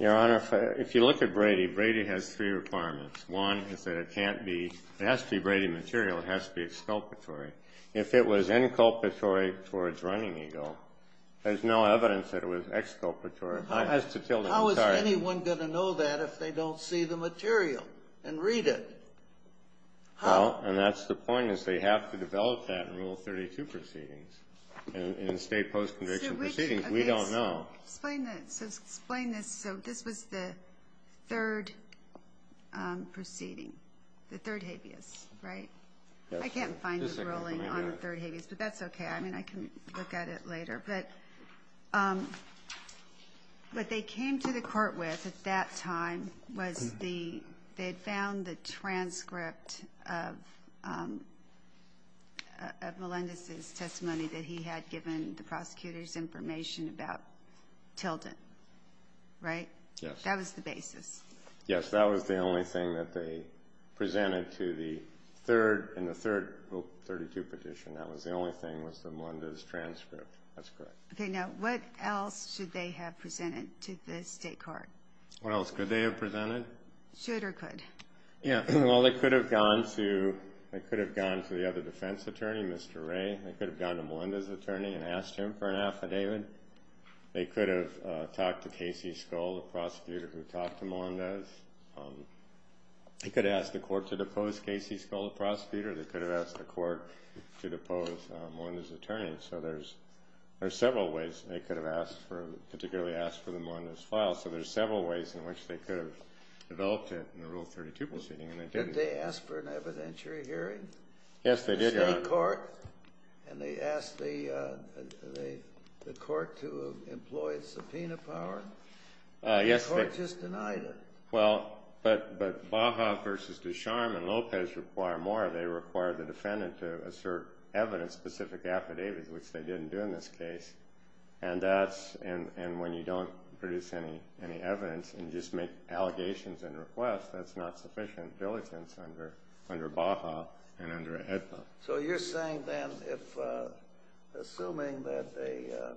Your Honor, if you look at Brady, Brady has three requirements. One is that it can't be, it has to be Brady material. It has to be exculpatory. If it was inculpatory towards running ego, there's no evidence that it was exculpatory. How is anyone going to know that if they don't see the material and read it? How? Well, and that's the point, is they have to develop that in Rule 32 proceedings. In state post-conviction proceedings, we don't know. Explain this. So this is the third proceeding, the third habeas, right? I can't find the ruling on the third habeas, but that's okay. I mean, I can look at it later. But what they came to the court with at that time was they had found the transcript of Melendez's testimony that he had given the prosecutors information about Tilden, right? Yes. That was the basis. Okay, now what else should they have presented to this state court? What else could they have presented? Should or could? Yeah, well, they could have gone to the other defense attorney, Mr. Ray. They could have gone to Melendez's attorney and asked him for an affidavit. They could have talked to Casey Scull, the prosecutor who talked to Melendez. They could have asked the court to depose Casey Scull, the prosecutor. They could have asked the court to depose Melendez's attorney. So there's several ways. They could have particularly asked for the Melendez file. So there's several ways in which they could have developed it in the Rule 32 proceeding. Did they ask for an evidentiary hearing? Yes, they did. In the court? And they asked the court to employ subpoena power? The court just denied it. Well, but Baja versus Ducharme and Lopez require more. They require the defendant to assert evidence, specific affidavit, which they didn't do in this case. And when you don't produce any evidence and just make allegations and requests, that's not sufficient diligence under Baja and under HEDPA. So you're saying then, assuming that the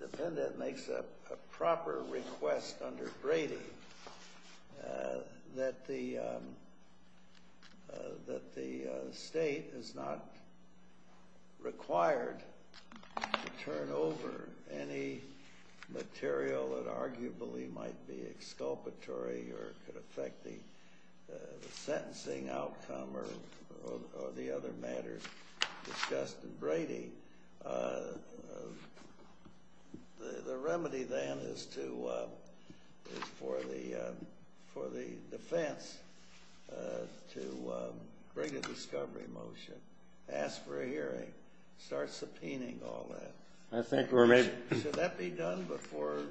defendant makes a proper request under Brady, that the state is not required to turn over any material that arguably might be exculpatory or could affect the sentencing outcome or the other matters discussed in Brady, the remedy then is for the defense to bring a discovery motion, ask for a hearing, start subpoenaing all that. Should that be done before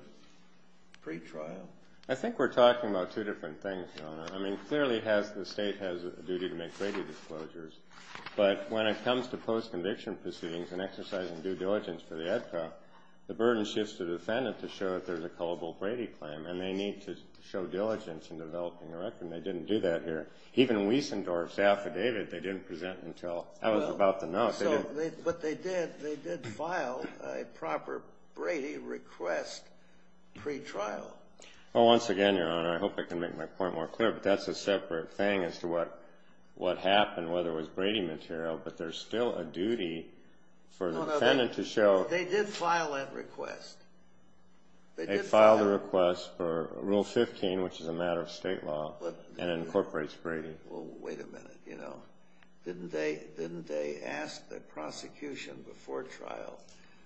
pretrial? I think we're talking about two different things, Your Honor. I mean, clearly the state has a duty to make Brady disclosures, but when it comes to post-conviction proceedings and exercising due diligence for the HEDPA, the burden shifts to the defendant to show that there's a culpable Brady claim, and they need to show diligence in developing a record, and they didn't do that here. Even Wiesendorf's affidavit, they didn't present until I was about to know. But they did file a proper Brady request pretrial. Well, once again, Your Honor, I hope I can make my point more clear, but that's a separate thing as to what happened, whether it was Brady material, but there's still a duty for the defendant to show— They did file that request. They filed a request for Rule 15, which is a matter of state law, and incorporates Brady. Well, wait a minute, you know. Didn't they ask the prosecution before trial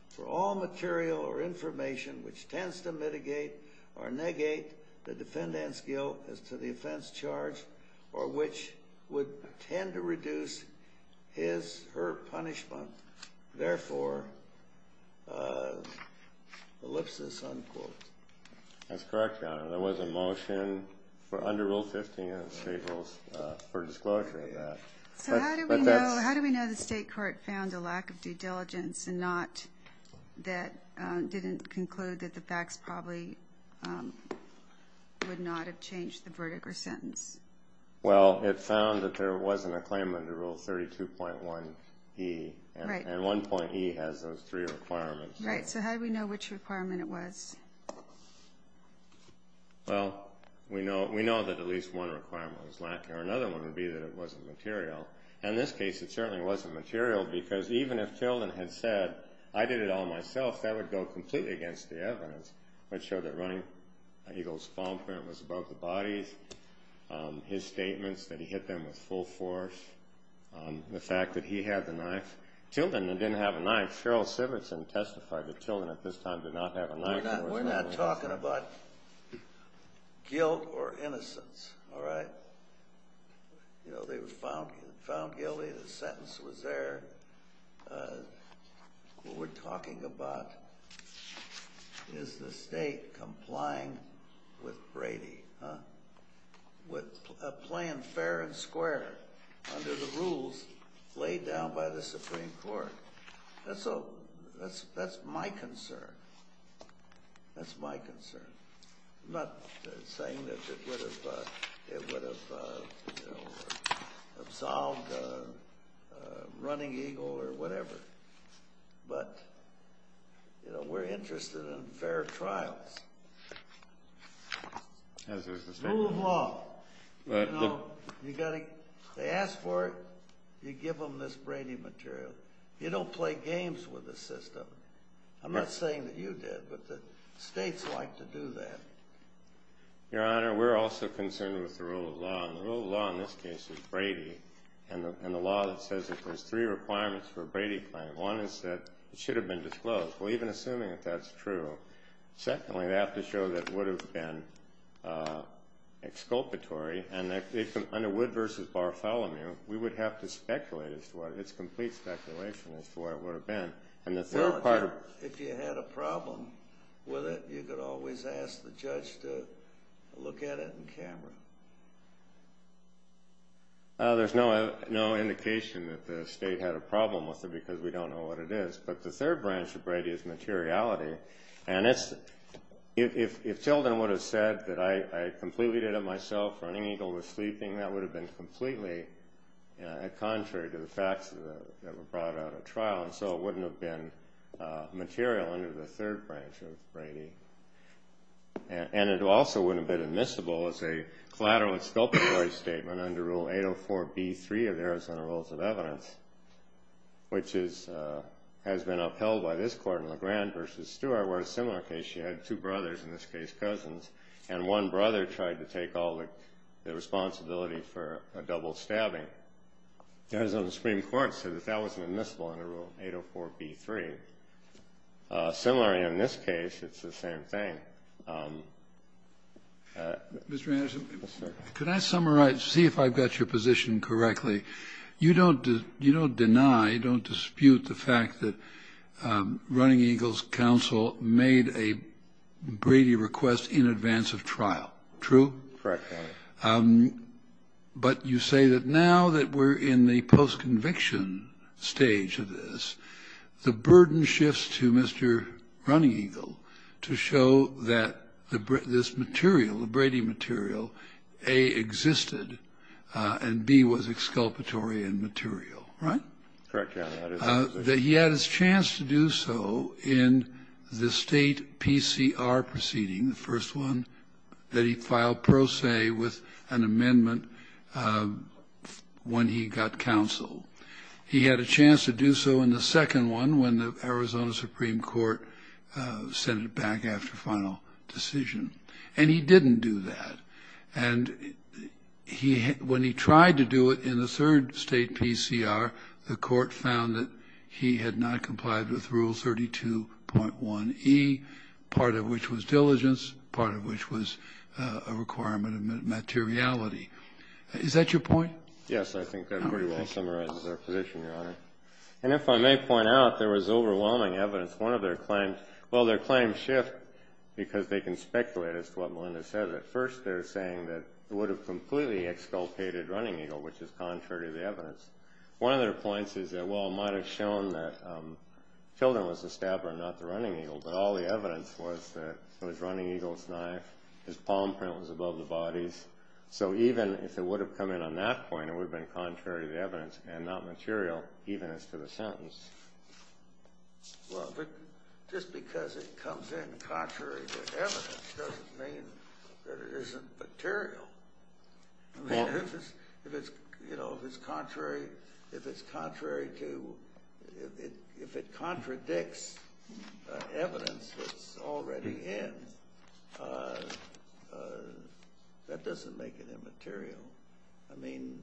for all material or information which tends to mitigate or negate the defendant's guilt as to the offense charged, or which would tend to reduce his or her punishment, therefore elipses, unquote? That's correct, Your Honor. There was a motion under Rule 15 in the state rules for disclosure in that. So how do we know the state court found a lack of due diligence that didn't conclude that the facts probably would not have changed the verdict or sentence? Well, it found that there wasn't a claim under Rule 32.1e, and 1.e has those three requirements. Right. So how do we know which requirement it was? Well, we know that at least one requirement was lacking, or another one would be that it wasn't material. In this case, it certainly wasn't material, because even if Hilden had said, I did it all myself, that would go completely against the evidence. I'd show that Ronnie Eagle's palm print was above the body, his statement that he hit them with full force, the fact that he had the knife. Hilden didn't have a knife. Cheryl Sivertson testified that Hilden at this time did not have a knife. We're not talking about guilt or innocence, all right? They were found guilty. The sentence was there. What we're talking about is the state complying with Brady, with a plan fair and square under the rules laid down by the Supreme Court. That's my concern. That's my concern. I'm not saying that it would have absolved Ronnie Eagle or whatever, but we're interested in fair trial. Rule of law. They ask for it, you give them this Brady material. You don't play games with the system. I'm not saying that you did, but the states like to do that. Your Honor, we're also concerned with the rule of law, and the rule of law in this case is Brady, and the law says that there's three requirements for a Brady claim. One is that it should have been disclosed. Even assuming that that's true. Secondly, they have to show that it would have been exculpatory. Under Wood v. Bartholomew, we would have to speculate. It's complete speculation as to where it would have been. If you had a problem with it, you could always ask the judge to look at it in camera. There's no indication that the state had a problem with it because we don't know what it is. But the third branch of Brady is materiality, and it seldom would have said that I completely did it myself or an eagle was sleeping. That would have been completely contrary to the facts that were brought out at trial, so it wouldn't have been material under the third branch of Brady. And it also wouldn't have been admissible as a collateral exculpatory statement under Rule 804B3 of Arizona Rules of Evidence, which has been upheld by this Court in LeGrand v. Stewart, where in a similar case you had two brothers, in this case cousins, and one brother tried to take all the responsibility for a double stabbing. Arizona Supreme Court said that that wasn't admissible under Rule 804B3. Similarly, in this case, it's the same thing. Mr. Anderson, could I summarize, see if I've got your position correctly. You don't deny, you don't dispute the fact that Running Eagle's counsel made a Brady request in advance of trial, true? Correct. But you say that now that we're in the post-conviction stage of this, the burden shifts to Mr. Running Eagle to show that this material, the Brady material, A, existed, and B, was exculpatory in material. Correct. That he had his chance to do so in the state PCR proceeding, the first one, that he filed pro se with an amendment when he got counsel. He had a chance to do so in the second one when the Arizona Supreme Court sent it back after final decision. And he didn't do that. And when he tried to do it in the third state PCR, the court found that he had not complied with Rule 32.1E, part of which was diligence, part of which was a requirement of materiality. Is that your point? Yes, I think that pretty well summarizes our position, Your Honor. And if I may point out, there was overwhelming evidence, one of their claims, well, their claims shift because they can speculate as to what Melinda said. At first they're saying that it would have completely exculpated Running Eagle, which is contrary to the evidence. One of their points is that, well, it might have shown that Tilden was the stabber and not the Running Eagle, but all the evidence was that it was Running Eagle's knife, his palm print was above the body. So even if it would have come in on that point, it would have been contrary to the evidence and not material, even as to the sentence. Well, just because it comes in contrary to evidence doesn't mean that it isn't material. If it's contrary to, if it contradicts the evidence that it's already in, that doesn't make it immaterial. I mean,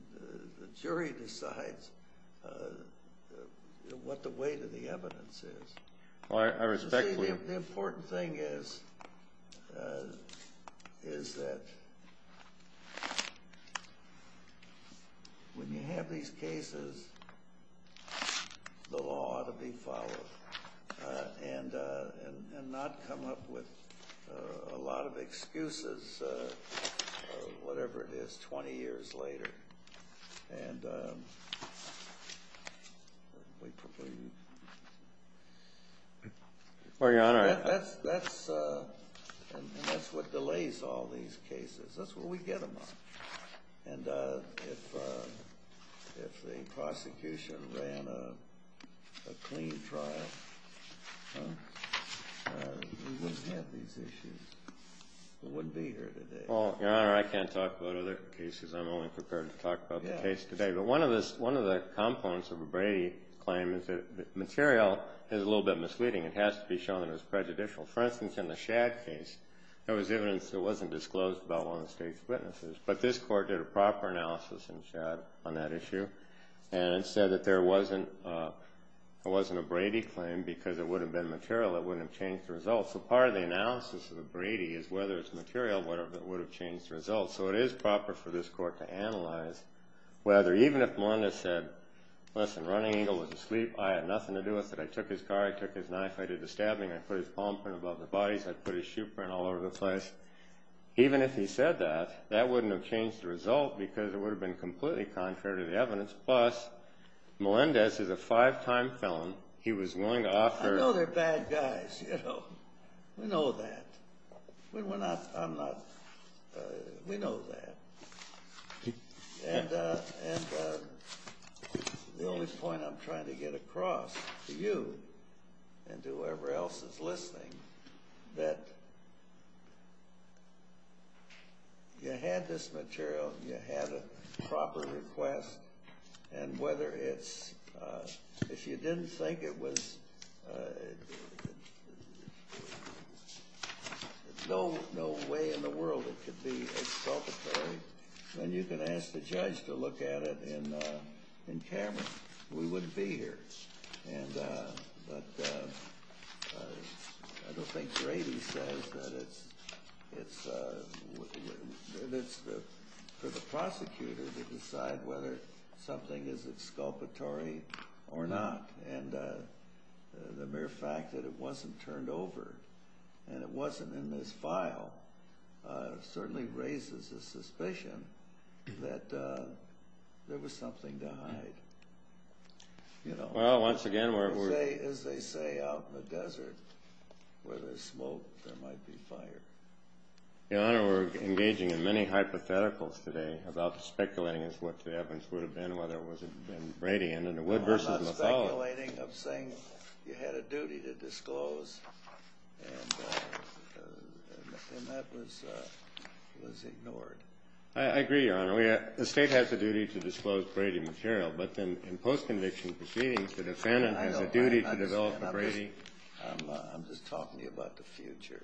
the jury decides what the weight of the evidence is. The important thing is that when you have these cases, the law ought to be followed and not come up with a lot of excuses, whatever it is, 20 years later. And that's what delays all these cases. That's where we get them. And if the prosecution ran a clean trial, we wouldn't have these issues. We wouldn't be here today. Your Honor, I can't talk about other cases. I'm only prepared to talk about the case today. But one of the components of a Brady claim is that material is a little bit misleading. It has to be shown that it was prejudicial. For instance, in the Shadd case, there was evidence that wasn't disclosed by one of the state's witnesses. But this Court did a proper analysis in Shadd on that issue and said that there wasn't a Brady claim because it would have been material. It wouldn't have changed the results. So part of the analysis of the Brady is whether it's material and whether it would have changed the results. So it is proper for this Court to analyze whether, even if Melinda said, listen, Running Eagle was asleep, I had nothing to do with it. I took his car. I took his knife. I did the stabbing. I put his palm print above his body. I put his shoe print all over the place. Even if he said that, that wouldn't have changed the result because it would have been completely contrary to the evidence. Plus, Melinda, this is a five-time felon. He was willing to offer— I know they're bad guys, you know. We know that. We know that. And the only point I'm trying to get across to you and to whoever else is listening that you had this material and you had a proper request and whether it's— if you didn't think it was— there's no way in the world it could be exculpatory and you can ask the judge to look at it in camera. We wouldn't be here. But I don't think Brady says that it's— for the prosecutor to decide whether something is exculpatory or not and the mere fact that it wasn't turned over and it wasn't in this file certainly raises the suspicion that there was something to hide. Once again, we're— As they say out in the desert, where there's smoke, there might be fire. Your Honor, we're engaging in many hypotheticals today about speculating as to what the evidence would have been, whether it was in Brady and in the Wood v. McCullough. I'm saying you had a duty to disclose and that was ignored. I agree, Your Honor. The State has a duty to disclose Brady material, but in post-conviction proceedings, the defendant has a duty to— I'm just talking about the future.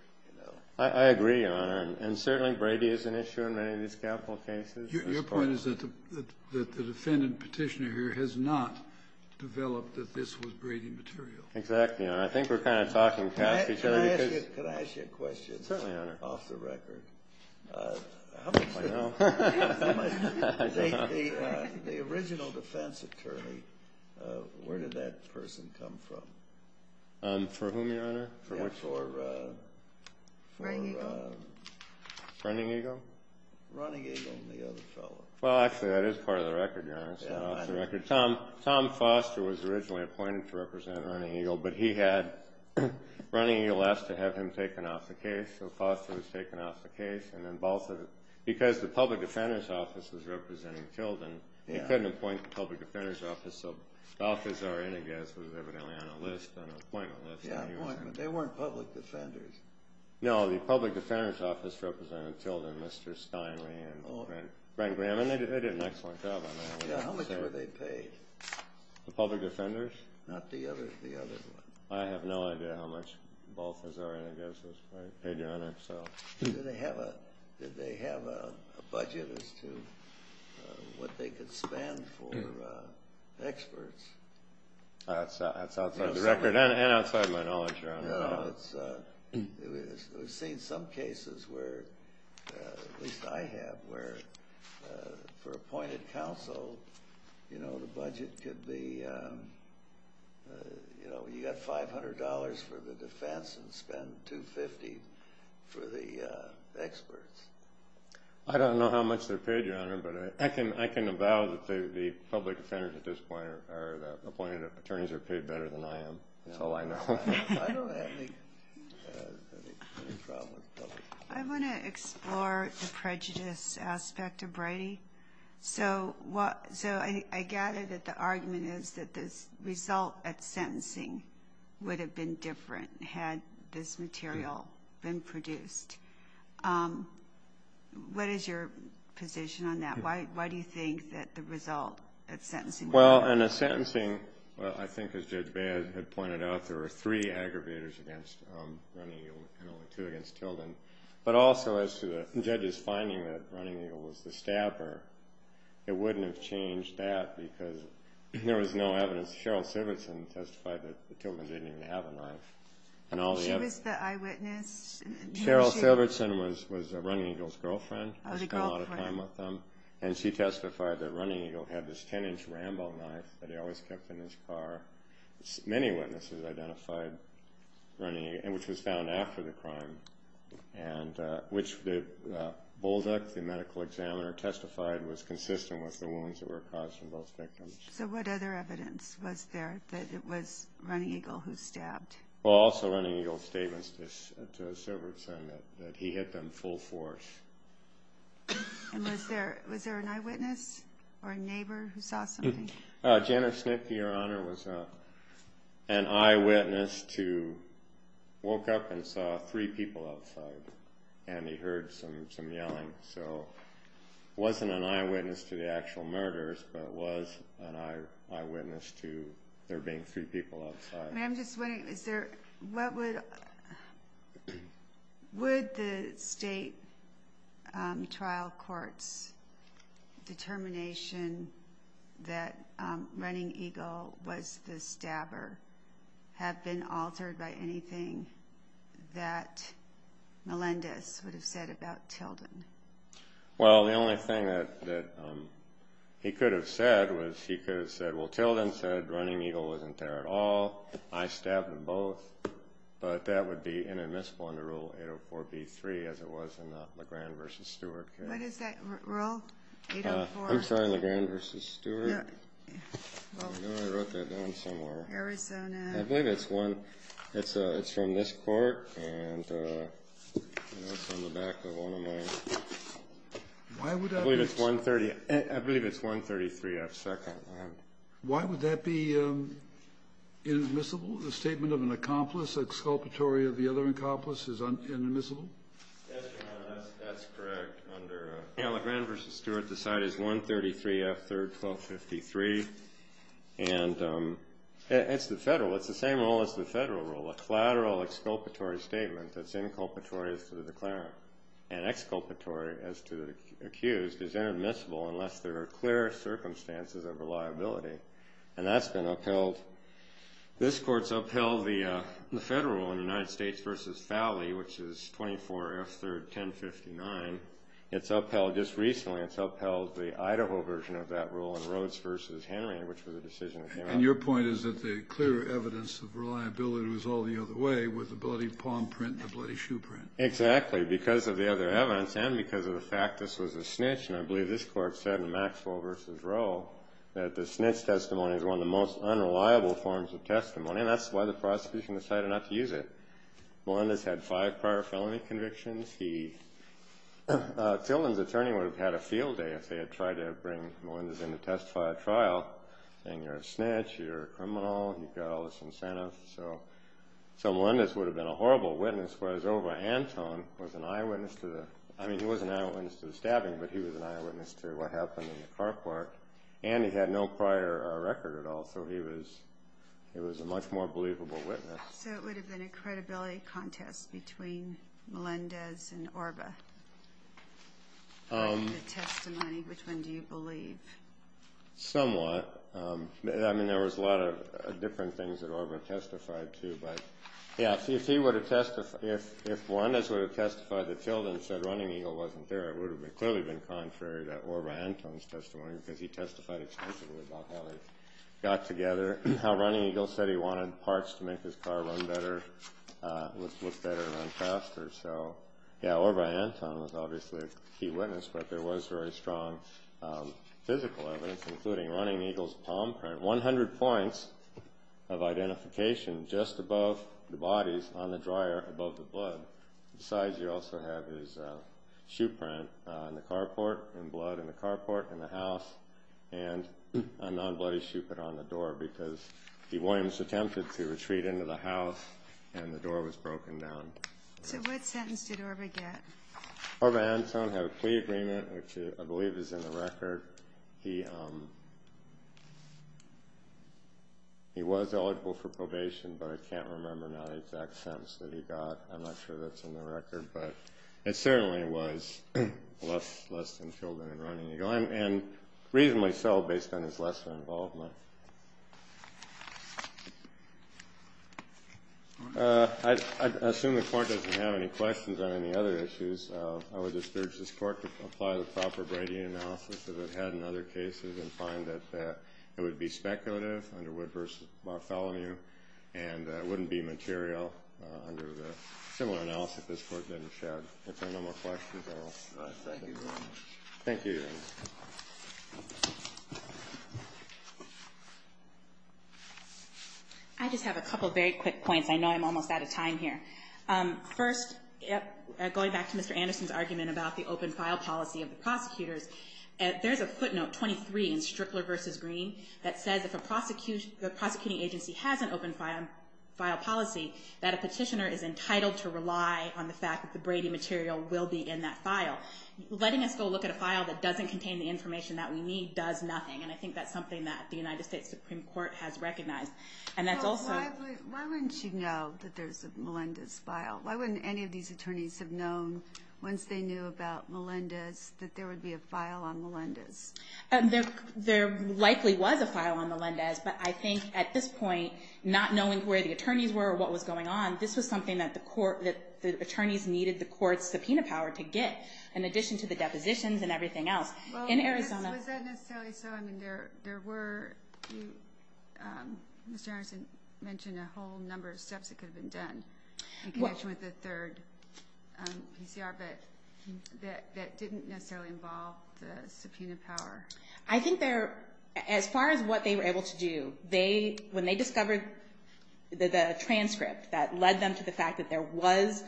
I agree, Your Honor, and certainly Brady is an issue in many of these capital cases. Your point is that the defendant petitioner here has not developed that this was Brady material. Exactly. Thank you, Your Honor. I think we're kind of talking past each other. Can I ask you a question? Certainly, Your Honor. Off the record. I don't know. The original defense attorney, where did that person come from? For whom, Your Honor? For— Running Eagle. Running Eagle? Running Eagle and the other fellow. Well, actually, that is part of the record, Your Honor. It's part of the record. Tom Foster was originally appointed to represent Running Eagle, but he had Running Eagle ask to have him taken off the case, so Foster was taken off the case, and then Balthus— because the public defender's office was representing Kildon, he couldn't appoint the public defender's office, so Balthus or Enigas was evidently on the list, on the appointment list. Yeah, appointed, but they weren't public defenders. No, the public defender's office represented Kildon, Mr. Steinway, and Fred Graham, and they did an excellent job on that. How much were they paid? The public defenders? Not the other one. I have no idea how much Balthus or Enigas was paid, Your Honor. Did they have a budget as to what they could spend for experts? That's outside the record and outside my knowledge, Your Honor. No, it's—we've seen some cases where, at least I have, where for appointed counsel, you know, the budget could be— you know, you've got $500 for the defense and spend $250 for the experts. I don't know how much they're paid, Your Honor, but I can avow that the public defenders at this point are appointed— attorneys are paid better than I am. Oh, I know. I don't have any problem with public defenders. I want to explore the prejudice aspect of Brady. So I gather that the argument is that the result of sentencing would have been different had this material been produced. What is your position on that? Why do you think that the result of sentencing— Well, in the sentencing, I think as Judge Baird had pointed out, there were three aggravators against Running Eagle and two against Tilden. But also as to the judge's finding that Running Eagle was the stabber, it wouldn't have changed that because there was no evidence. Cheryl Silverson testified that Tilden didn't even have a knife. She was the eyewitness? Cheryl Silverson was Running Eagle's girlfriend. I spent a lot of time with them. And she testified that Running Eagle had this 10-inch Rambo knife that he always kept in his car. Many witnesses identified Running Eagle, which was found after the crime, and which Bolduc, the medical examiner, testified was consistent with the wounds that were caused from both victims. So what other evidence was there that it was Running Eagle who stabbed? Well, also Running Eagle's statements to Silverson that he hit them full force. And was there an eyewitness or a neighbor who saw something? Janice Smith, Your Honor, was an eyewitness to woke up and saw three people outside, and he heard some yelling. So it wasn't an eyewitness to the actual murders, but it was an eyewitness to there being two people outside. I'm just wondering, would the state trial court's determination that Running Eagle was the stabber have been altered by anything that Melendez would have said about Tilden? Well, the only thing that he could have said was he could have said, Well, Tilden said Running Eagle wasn't there at all. I stabbed them both. But that would be inadmissible under Rule 804b-3 as it was in the McGran versus Stewart case. What is that rule, 804b-3? I'm sorry, McGran versus Stewart? Yes. No, I wrote that down somewhere. Here we go now. I believe it's one. It's from this court, and it's on the back of one of mine. I believe it's 133F-2nd. Why would that be inadmissible? The statement of an accomplice exculpatory of the other accomplice is inadmissible? That's correct. Under McGran versus Stewart, the side is 133F-3rd-1253, and it's the federal. It's the same rule as the federal rule, a collateral exculpatory statement that's inculpatory for the declarant. An exculpatory as to the accused is inadmissible unless there are clear circumstances of reliability, and that's been upheld. This court's upheld the federal rule in the United States versus Fowley, which is 24F-3rd-1059. It's upheld just recently. It's upheld the Idaho version of that rule in Rhodes versus Hanley, which was a decision of Hanley. And your point is that the clear evidence of reliability was all the other way, was the ability to palm print, the ability to shoe print. Exactly, because of the other evidence and because of the fact this was a snitch, and I believe this court said in Maxwell versus Rowe that the snitch testimony is one of the most unreliable forms of testimony, and that's why the prosecution decided not to use it. Melendez had five prior felony convictions. The felon's attorney would have had a field day if they had tried to bring Melendez in to testify at trial, and you're a snitch, you're a criminal, you've got all this incentive. So Melendez would have been a horrible witness, whereas Orva Anton was an eyewitness. I mean, he wasn't an eyewitness to the stabbing, but he was an eyewitness to what happened in the car park, and he had no prior record at all, so he was a much more believable witness. So it would have been a credibility contest between Melendez and Orva, trying to testify, which one do you believe? Somewhat. I mean, there was a lot of different things that Orva testified to, but, yeah, if Melendez would have testified to Tilden and said Running Eagle wasn't there, it would have clearly been contrary to Orva Anton's testimony, because he testified extensively about how they got together, how Running Eagle said he wanted parts to make his car run better, look better and run faster. So, yeah, Orva Anton was obviously a key witness, but there was very strong physical evidence, including Running Eagle's palm print, 100 points of identification, just above the bodies on the dryer, above the blood. Besides, you also have his shoe print in the car park, and blood in the car park, in the house, and an unblemished shoe print on the door, because Williams attempted to retreat into the house, and the door was broken down. So what sentence did Orva get? Orva Anton had a plea agreement, which I believe is in the record. He was eligible for probation, but I can't remember the exact sentence that he got. I'm not sure that's in the record, but it certainly was less than Tilden and Running Eagle, and reasonably so, based on his lesser involvement. I assume the Court doesn't have any questions on any other issues. I would just urge this Court to apply the proper Brady analysis that we've had in other cases and find that it would be speculative under Wood v. LaFallonieu, and it wouldn't be material under the similar analysis this Court didn't show. If there are no more questions, I will sign off. Thank you very much. Thank you. I just have a couple of very quick points. I know I'm almost out of time here. First, going back to Mr. Anderson's argument about the open file policy of the prosecutors, there's a footnote, 23, in Strickler v. Green, that says if a prosecuting agency has an open file policy, that a petitioner is entitled to rely on the fact that the Brady material will be in that file. Letting us go look at a file that doesn't contain the information that we need does nothing, and I think that's something that the United States Supreme Court has recognized. Why wouldn't you know that there's a Melendez file? Why wouldn't any of these attorneys have known, once they knew about Melendez, that there would be a file on Melendez? There likely was a file on Melendez, but I think at this point, not knowing where the attorneys were or what was going on, this was something that the attorneys needed the Court's subpoena power to get, in addition to the depositions and everything else. In Arizona. Was that necessarily so? I mean, there were, Mr. Anderson mentioned a whole number of steps that could have been done in connection with this third PCR that didn't necessarily involve the subpoena power. I think there, as far as what they were able to do, when they discovered the transcript that led them to the fact that there was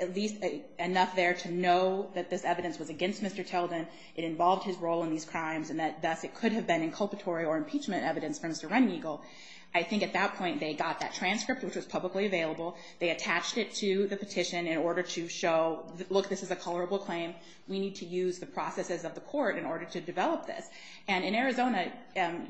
at least enough there to know that this evidence was against Mr. Tilden, it involved his role in these crimes, and thus it could have been inculpatory or impeachment evidence from Surrender Eagle. I think at that point they got that transcript, which was publicly available. They attached it to the petition in order to show, look, this is a colorable claim. We need to use the processes of the Court in order to develop this. And in Arizona,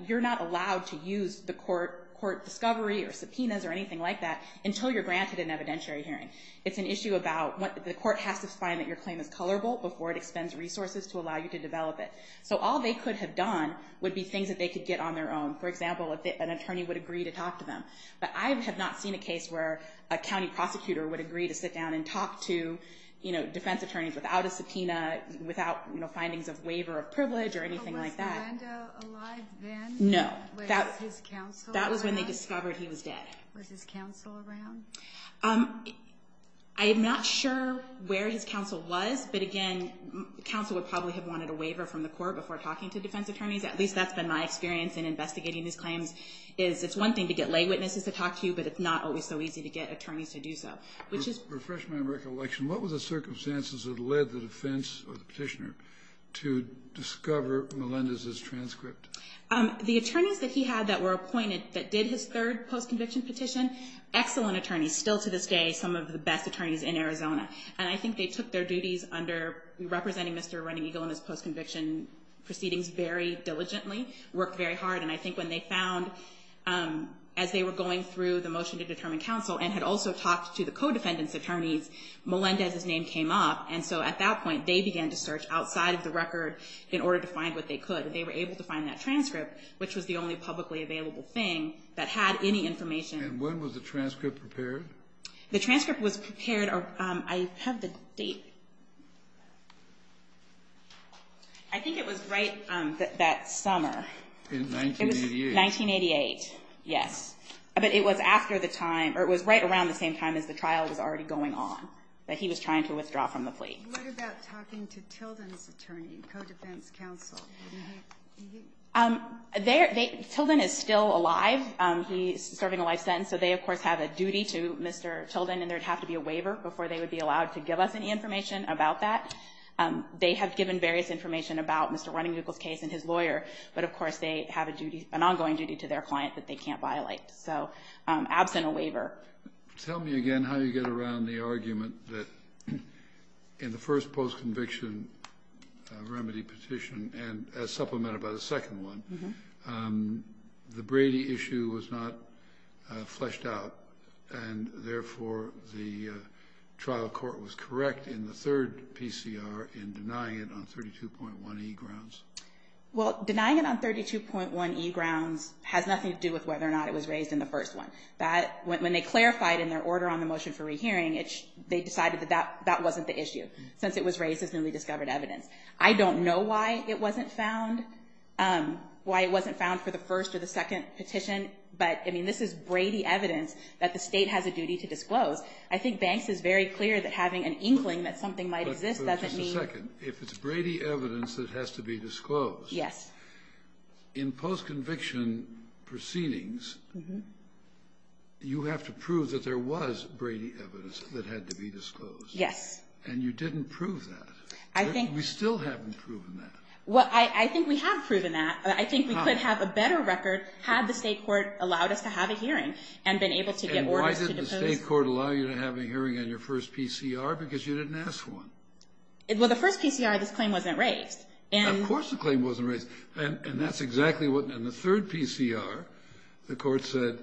you're not allowed to use the Court discovery or subpoenas or anything like that until you're granted an evidentiary hearing. It's an issue about the Court has to find that your claim is colorable before it expends resources to allow you to develop it. So all they could have done would be things that they could get on their own. For example, if an attorney would agree to talk to them. But I have not seen a case where a county prostitutor would agree to sit down and talk to defense attorneys without a subpoena, without findings of waiver of privilege or anything like that. Was Orlando alive then? No. Was his counsel around? That was when they discovered he was dead. Was his counsel around? I am not sure where his counsel was. But, again, counsel would probably have wanted a waiver from the Court before talking to defense attorneys. At least that's been my experience in investigating these claims, is it's one thing to get lay witnesses to talk to you, but it's not always so easy to get attorneys to do so. For refreshment and recollection, what were the circumstances that led the defense or the petitioner to discover Melendez's transcript? The attorneys that he had that were appointed that did his third post-conviction petition, excellent attorneys, still to this day some of the best attorneys in Arizona. And I think they took their duties under representing Mr. Running Eagle in his post-conviction proceedings very diligently, worked very hard. And I think when they found, as they were going through the motion to determine counsel and had also talked to the co-defendant's attorney, Melendez's name came up. And so at that point they began to search outside of the record in order to find what they could. And so they were able to find that transcript, which was the only publicly available thing, that had any information. And when was the transcript prepared? The transcript was prepared, I have the date. I think it was right that summer. In 1988. 1988, yes. But it was after the time, or it was right around the same time as the trial was already going on, that he was trying to withdraw from the plea. What about talking to Tilden's attorney, co-defense counsel? Tilden is still alive. He's serving a life sentence. So they, of course, have a duty to Mr. Tilden, and there would have to be a waiver before they would be allowed to give us any information about that. They have given various information about Mr. Running Eagle's case and his lawyer, but, of course, they have an ongoing duty to their client that they can't violate. So absent a waiver. Tell me again how you get around the argument that in the first post-conviction remedy petition, and as supplemented by the second one, the Brady issue was not fleshed out, and therefore the trial court was correct in the third PCR in denying it on 32.1E grounds. Well, denying it on 32.1E grounds has nothing to do with whether or not it was raised in the first one. When they clarified in their order on the motion for rehearing, they decided that that wasn't the issue, since it was raised as newly discovered evidence. I don't know why it wasn't found, why it wasn't found for the first or the second petition, but, I mean, this is Brady evidence that the state has a duty to disclose. I think Banks is very clear that having an inkling that something might exist doesn't mean – But just a second. If it's Brady evidence that has to be disclosed, in post-conviction proceedings, you have to prove that there was Brady evidence that had to be disclosed. Yes. And you didn't prove that. I think – We still haven't proven that. Well, I think we have proven that. I think we could have a better record had the state court allowed us to have a hearing and been able to get – And why did the state court allow you to have a hearing on your first PCR? Because you didn't ask for one. Well, the first PCR, this claim wasn't raised. Of course the claim wasn't raised, and that's exactly what – In the third PCR, the court said,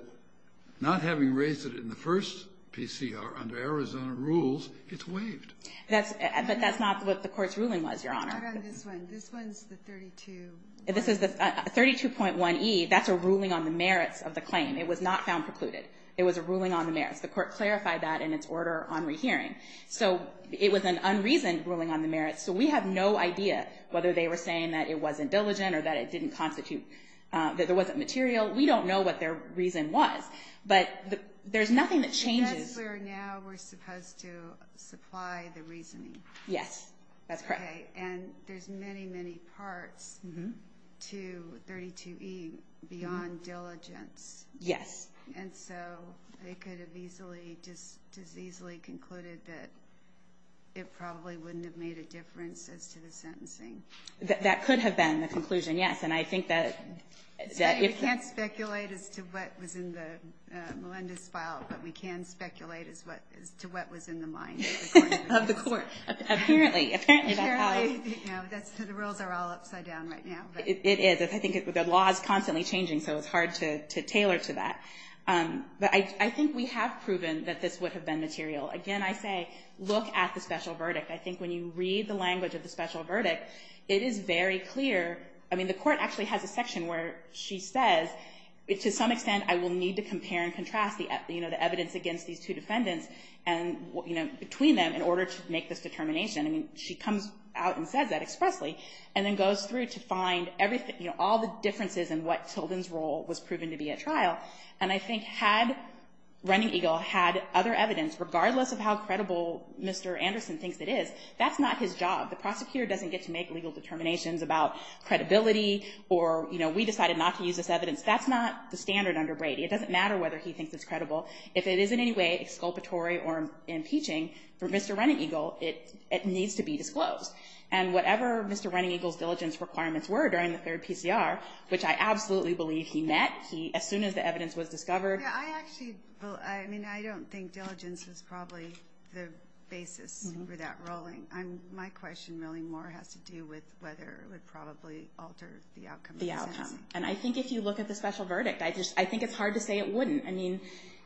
not having raised it in the first PCR under Arizona rules, it's waived. But that's not what the court's ruling was, Your Honor. I got this one. This one's the 32. This is the 32.1e. That's a ruling on the merits of the claim. It was not found precluded. It was a ruling on the merits. The court clarified that in its order on rehearing. So it was an unreasoned ruling on the merits. So we have no idea whether they were saying that it wasn't diligent or that it didn't constitute – that there wasn't material. We don't know what their reason was. But there's nothing that changes – Because we're now – we're supposed to supply the reasoning. Yes, that's correct. Okay. And there's many, many parts to 32.1e beyond diligent. Yes. And so they could have easily – just easily concluded that it probably wouldn't have made a difference as to the sentencing. That could have been the conclusion, yes. And I think that if – We can't speculate as to what was in Melinda's file, but we can speculate as to what was in the mind of the court. Of the court. Apparently. Apparently, that's how it – You know, that's the rule. They're all upside down right now. It is. I think the law is constantly changing, so it's hard to tailor to that. But I think we have proven that this would have been material. Again, I say look at the special verdict. I think when you read the language of the special verdict, it is very clear – I mean, the court actually has a section where she says, to some extent, I will need to compare and contrast the evidence against these two defendants between them in order to make this determination. I mean, she comes out and says that expressly and then goes through to find all the differences in what Tilden's role was proven to be at trial. And I think had Running Eagle had other evidence, regardless of how credible Mr. Anderson thinks it is, that's not his job. The prosecutor doesn't get to make legal determinations about credibility or, you know, we decided not to use this evidence. That's not the standard under Brady. If it is in any way exculpatory or impeaching for Mr. Running Eagle, it needs to be disclosed. And whatever Mr. Running Eagle's diligence requirements were during the third PCR, which I absolutely believe he met as soon as the evidence was discovered. I actually – I mean, I don't think diligence is probably the basis for that ruling. My question really more has to do with whether it would probably alter the outcome. The outcome. And I think if you look at the special verdict, I think it's hard to say it wouldn't. I mean,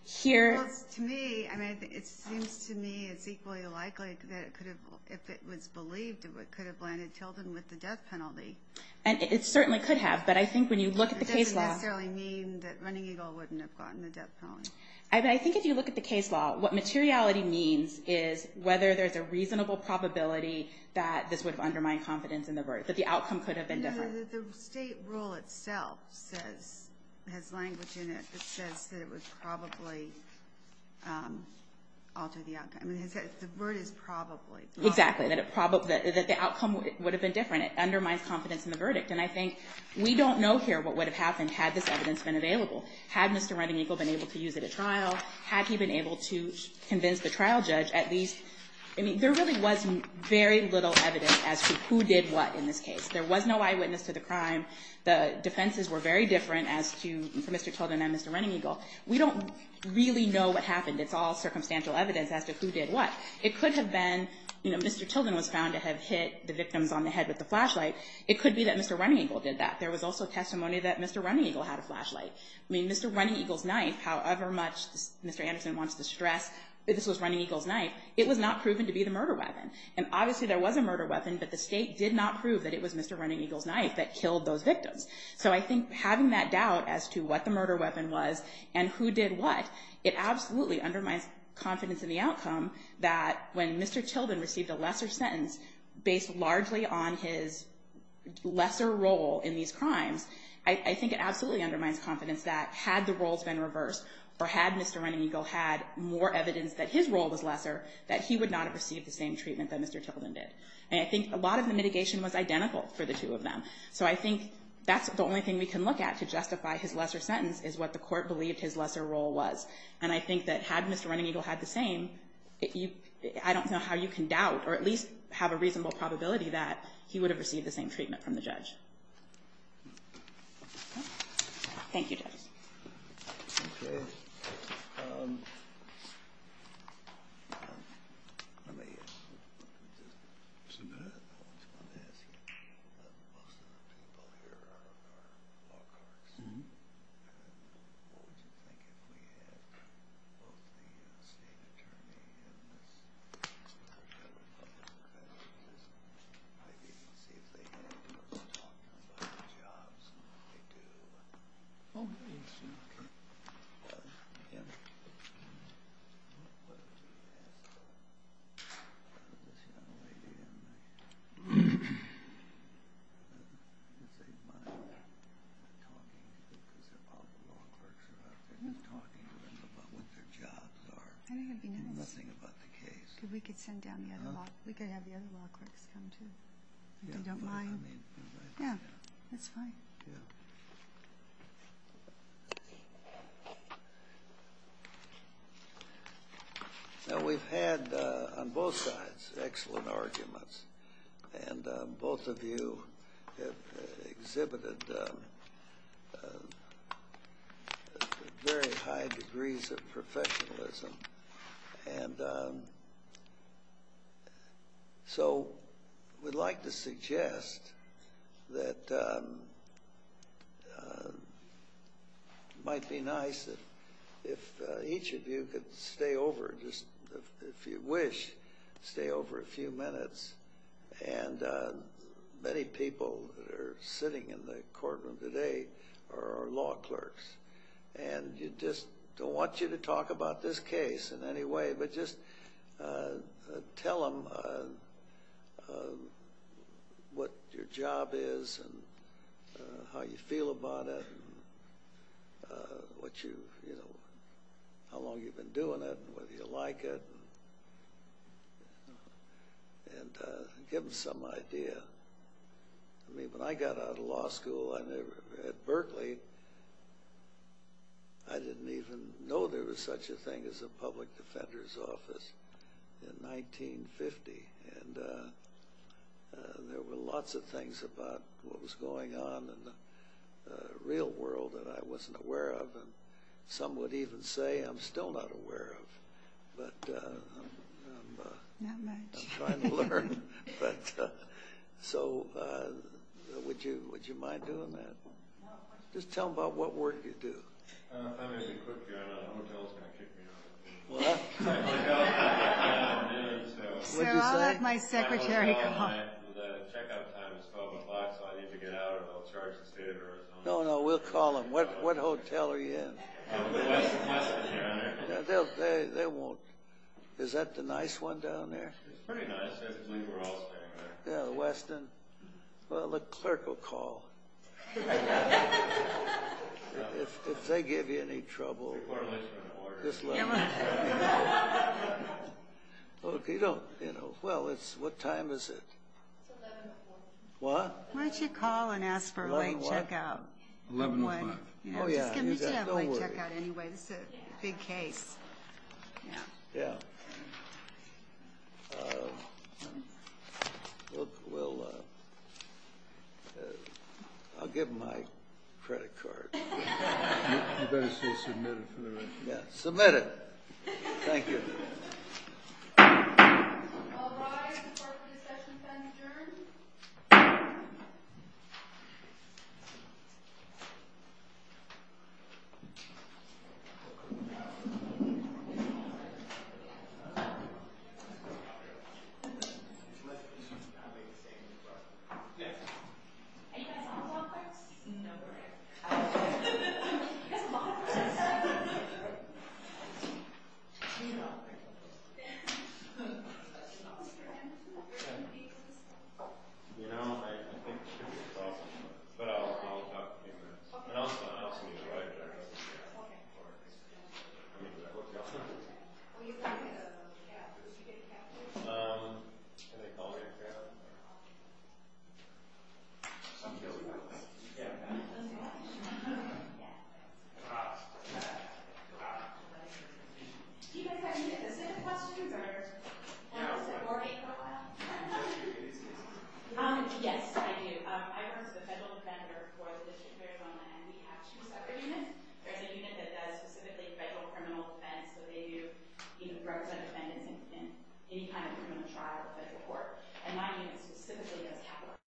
here – Well, to me – I mean, it seems to me it's equally likely that it could have – if it was believed, it could have blinded Tilden with the death penalty. And it certainly could have. But I think when you look at the case law – It doesn't necessarily mean that Running Eagle wouldn't have gotten the death penalty. I think if you look at the case law, what materiality means is whether there's a reasonable probability that this would undermine confidence in the verdict, that the outcome could have been different. The state rule itself says – has language in it that says that it would probably alter the outcome. I mean, it says the verdict probably. Exactly. That it probably – that the outcome would have been different. It undermines confidence in the verdict. And I think we don't know here what would have happened had this evidence been available. Had Mr. Running Eagle been able to use it at trial? Had he been able to convince the trial judge at least – I mean, there really was very little evidence as to who did what in this case. There was no eyewitness to the crime. The defenses were very different as to Mr. Tilden and Mr. Running Eagle. We don't really know what happened. It's all circumstantial evidence as to who did what. It could have been – you know, Mr. Tilden was found to have hit the victim on the head with a flashlight. It could be that Mr. Running Eagle did that. There was also testimony that Mr. Running Eagle had a flashlight. I mean, Mr. Running Eagle's knife, however much Mr. Anderson wants to stress that this was Running Eagle's knife, it was not proven to be the murder weapon. And obviously there was a murder weapon, but the state did not prove that it was Mr. Running Eagle's knife that killed those victims. So I think having that doubt as to what the murder weapon was and who did what, it absolutely undermines confidence in the outcome that when Mr. Tilden received a lesser sentence, based largely on his lesser role in these crimes, I think it absolutely undermines confidence that had the roles been reversed or had Mr. Running Eagle had more evidence that his role was lesser, that he would not have received the same treatment that Mr. Tilden did. And I think a lot of the mitigation was identical for the two of them. So I think that's the only thing we can look at to justify his lesser sentence is what the court believes his lesser role was. And I think that had Mr. Running Eagle had the same, I don't know how you can doubt or at least have a reasonable probability that he would have received the same treatment from the judge. Thank you. Okay. Thank you. Now we've had on both sides excellent arguments, and both of you have exhibited very high degrees of professionalism. And so we'd like to suggest that it might be nice if each of you could stay over, if you wish, stay over a few minutes. And many people that are sitting in the courtroom today are law clerks. And we just don't want you to talk about this case in any way, but just tell them what your job is and how you feel about it and how long you've been doing it and whether you like it. And give them some idea. I mean, when I got out of law school at Berkeley, I didn't even know there was such a thing as a public defender's office in 1950. And there were lots of things about what was going on in the real world that I wasn't aware of. And some would even say I'm still not aware of, but I'm trying to learn. So would you mind doing that? No. Just tell them about what work you do. I'm going to say quickly, a hotel is going to kick me out. Well, that's my job. No, that's my secretary job. I just call my wife. I need to get out, and I'll charge the theater. No, no, we'll call them. What hotel are you in? They won't. Is that the nice one down there? Yeah, the Westin? Well, the clerk will call. If they give you any trouble, just let me know. Well, what time is it? What? Why don't you call and ask for a late checkout? 11 o'clock. 11 o'clock. Oh, yeah, don't worry. You can still have a late checkout anyway. It's a big case. Yeah. Well, I'll get my credit card. You better say submitted for the record. Yeah, submitted. Thank you. All rise for the procession signing ceremony. Thank you. Thank you. Thank you.